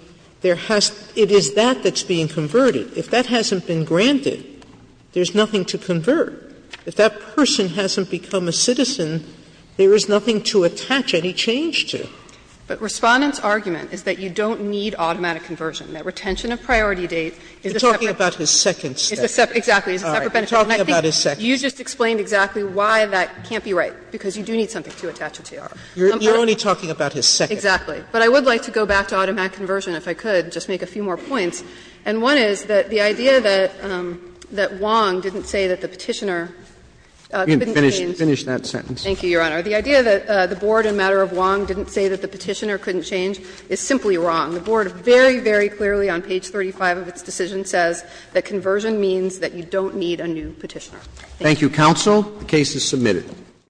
there has to be, it is that that's being converted. If that hasn't been granted, there's nothing to convert. If that person hasn't become a citizen, there is nothing to attach any change to. But Respondent's argument is that you don't need automatic conversion, that retention of priority date is a separate benefit. You're talking about his second statute. Exactly. And I think you just explained exactly why that can't be right, because you do need something to attach a TR. You're only talking about his second. Exactly. But I would like to go back to automatic conversion, if I could, just make a few more points. And one is that the idea that Wong didn't say that the Petitioner couldn't change. Finish that sentence. Thank you, Your Honor. The idea that the board in matter of Wong didn't say that the Petitioner couldn't change is simply wrong. The board very, very clearly on page 35 of its decision says that conversion means that you don't need a new Petitioner. Thank you. Thank you, counsel. The case is submitted.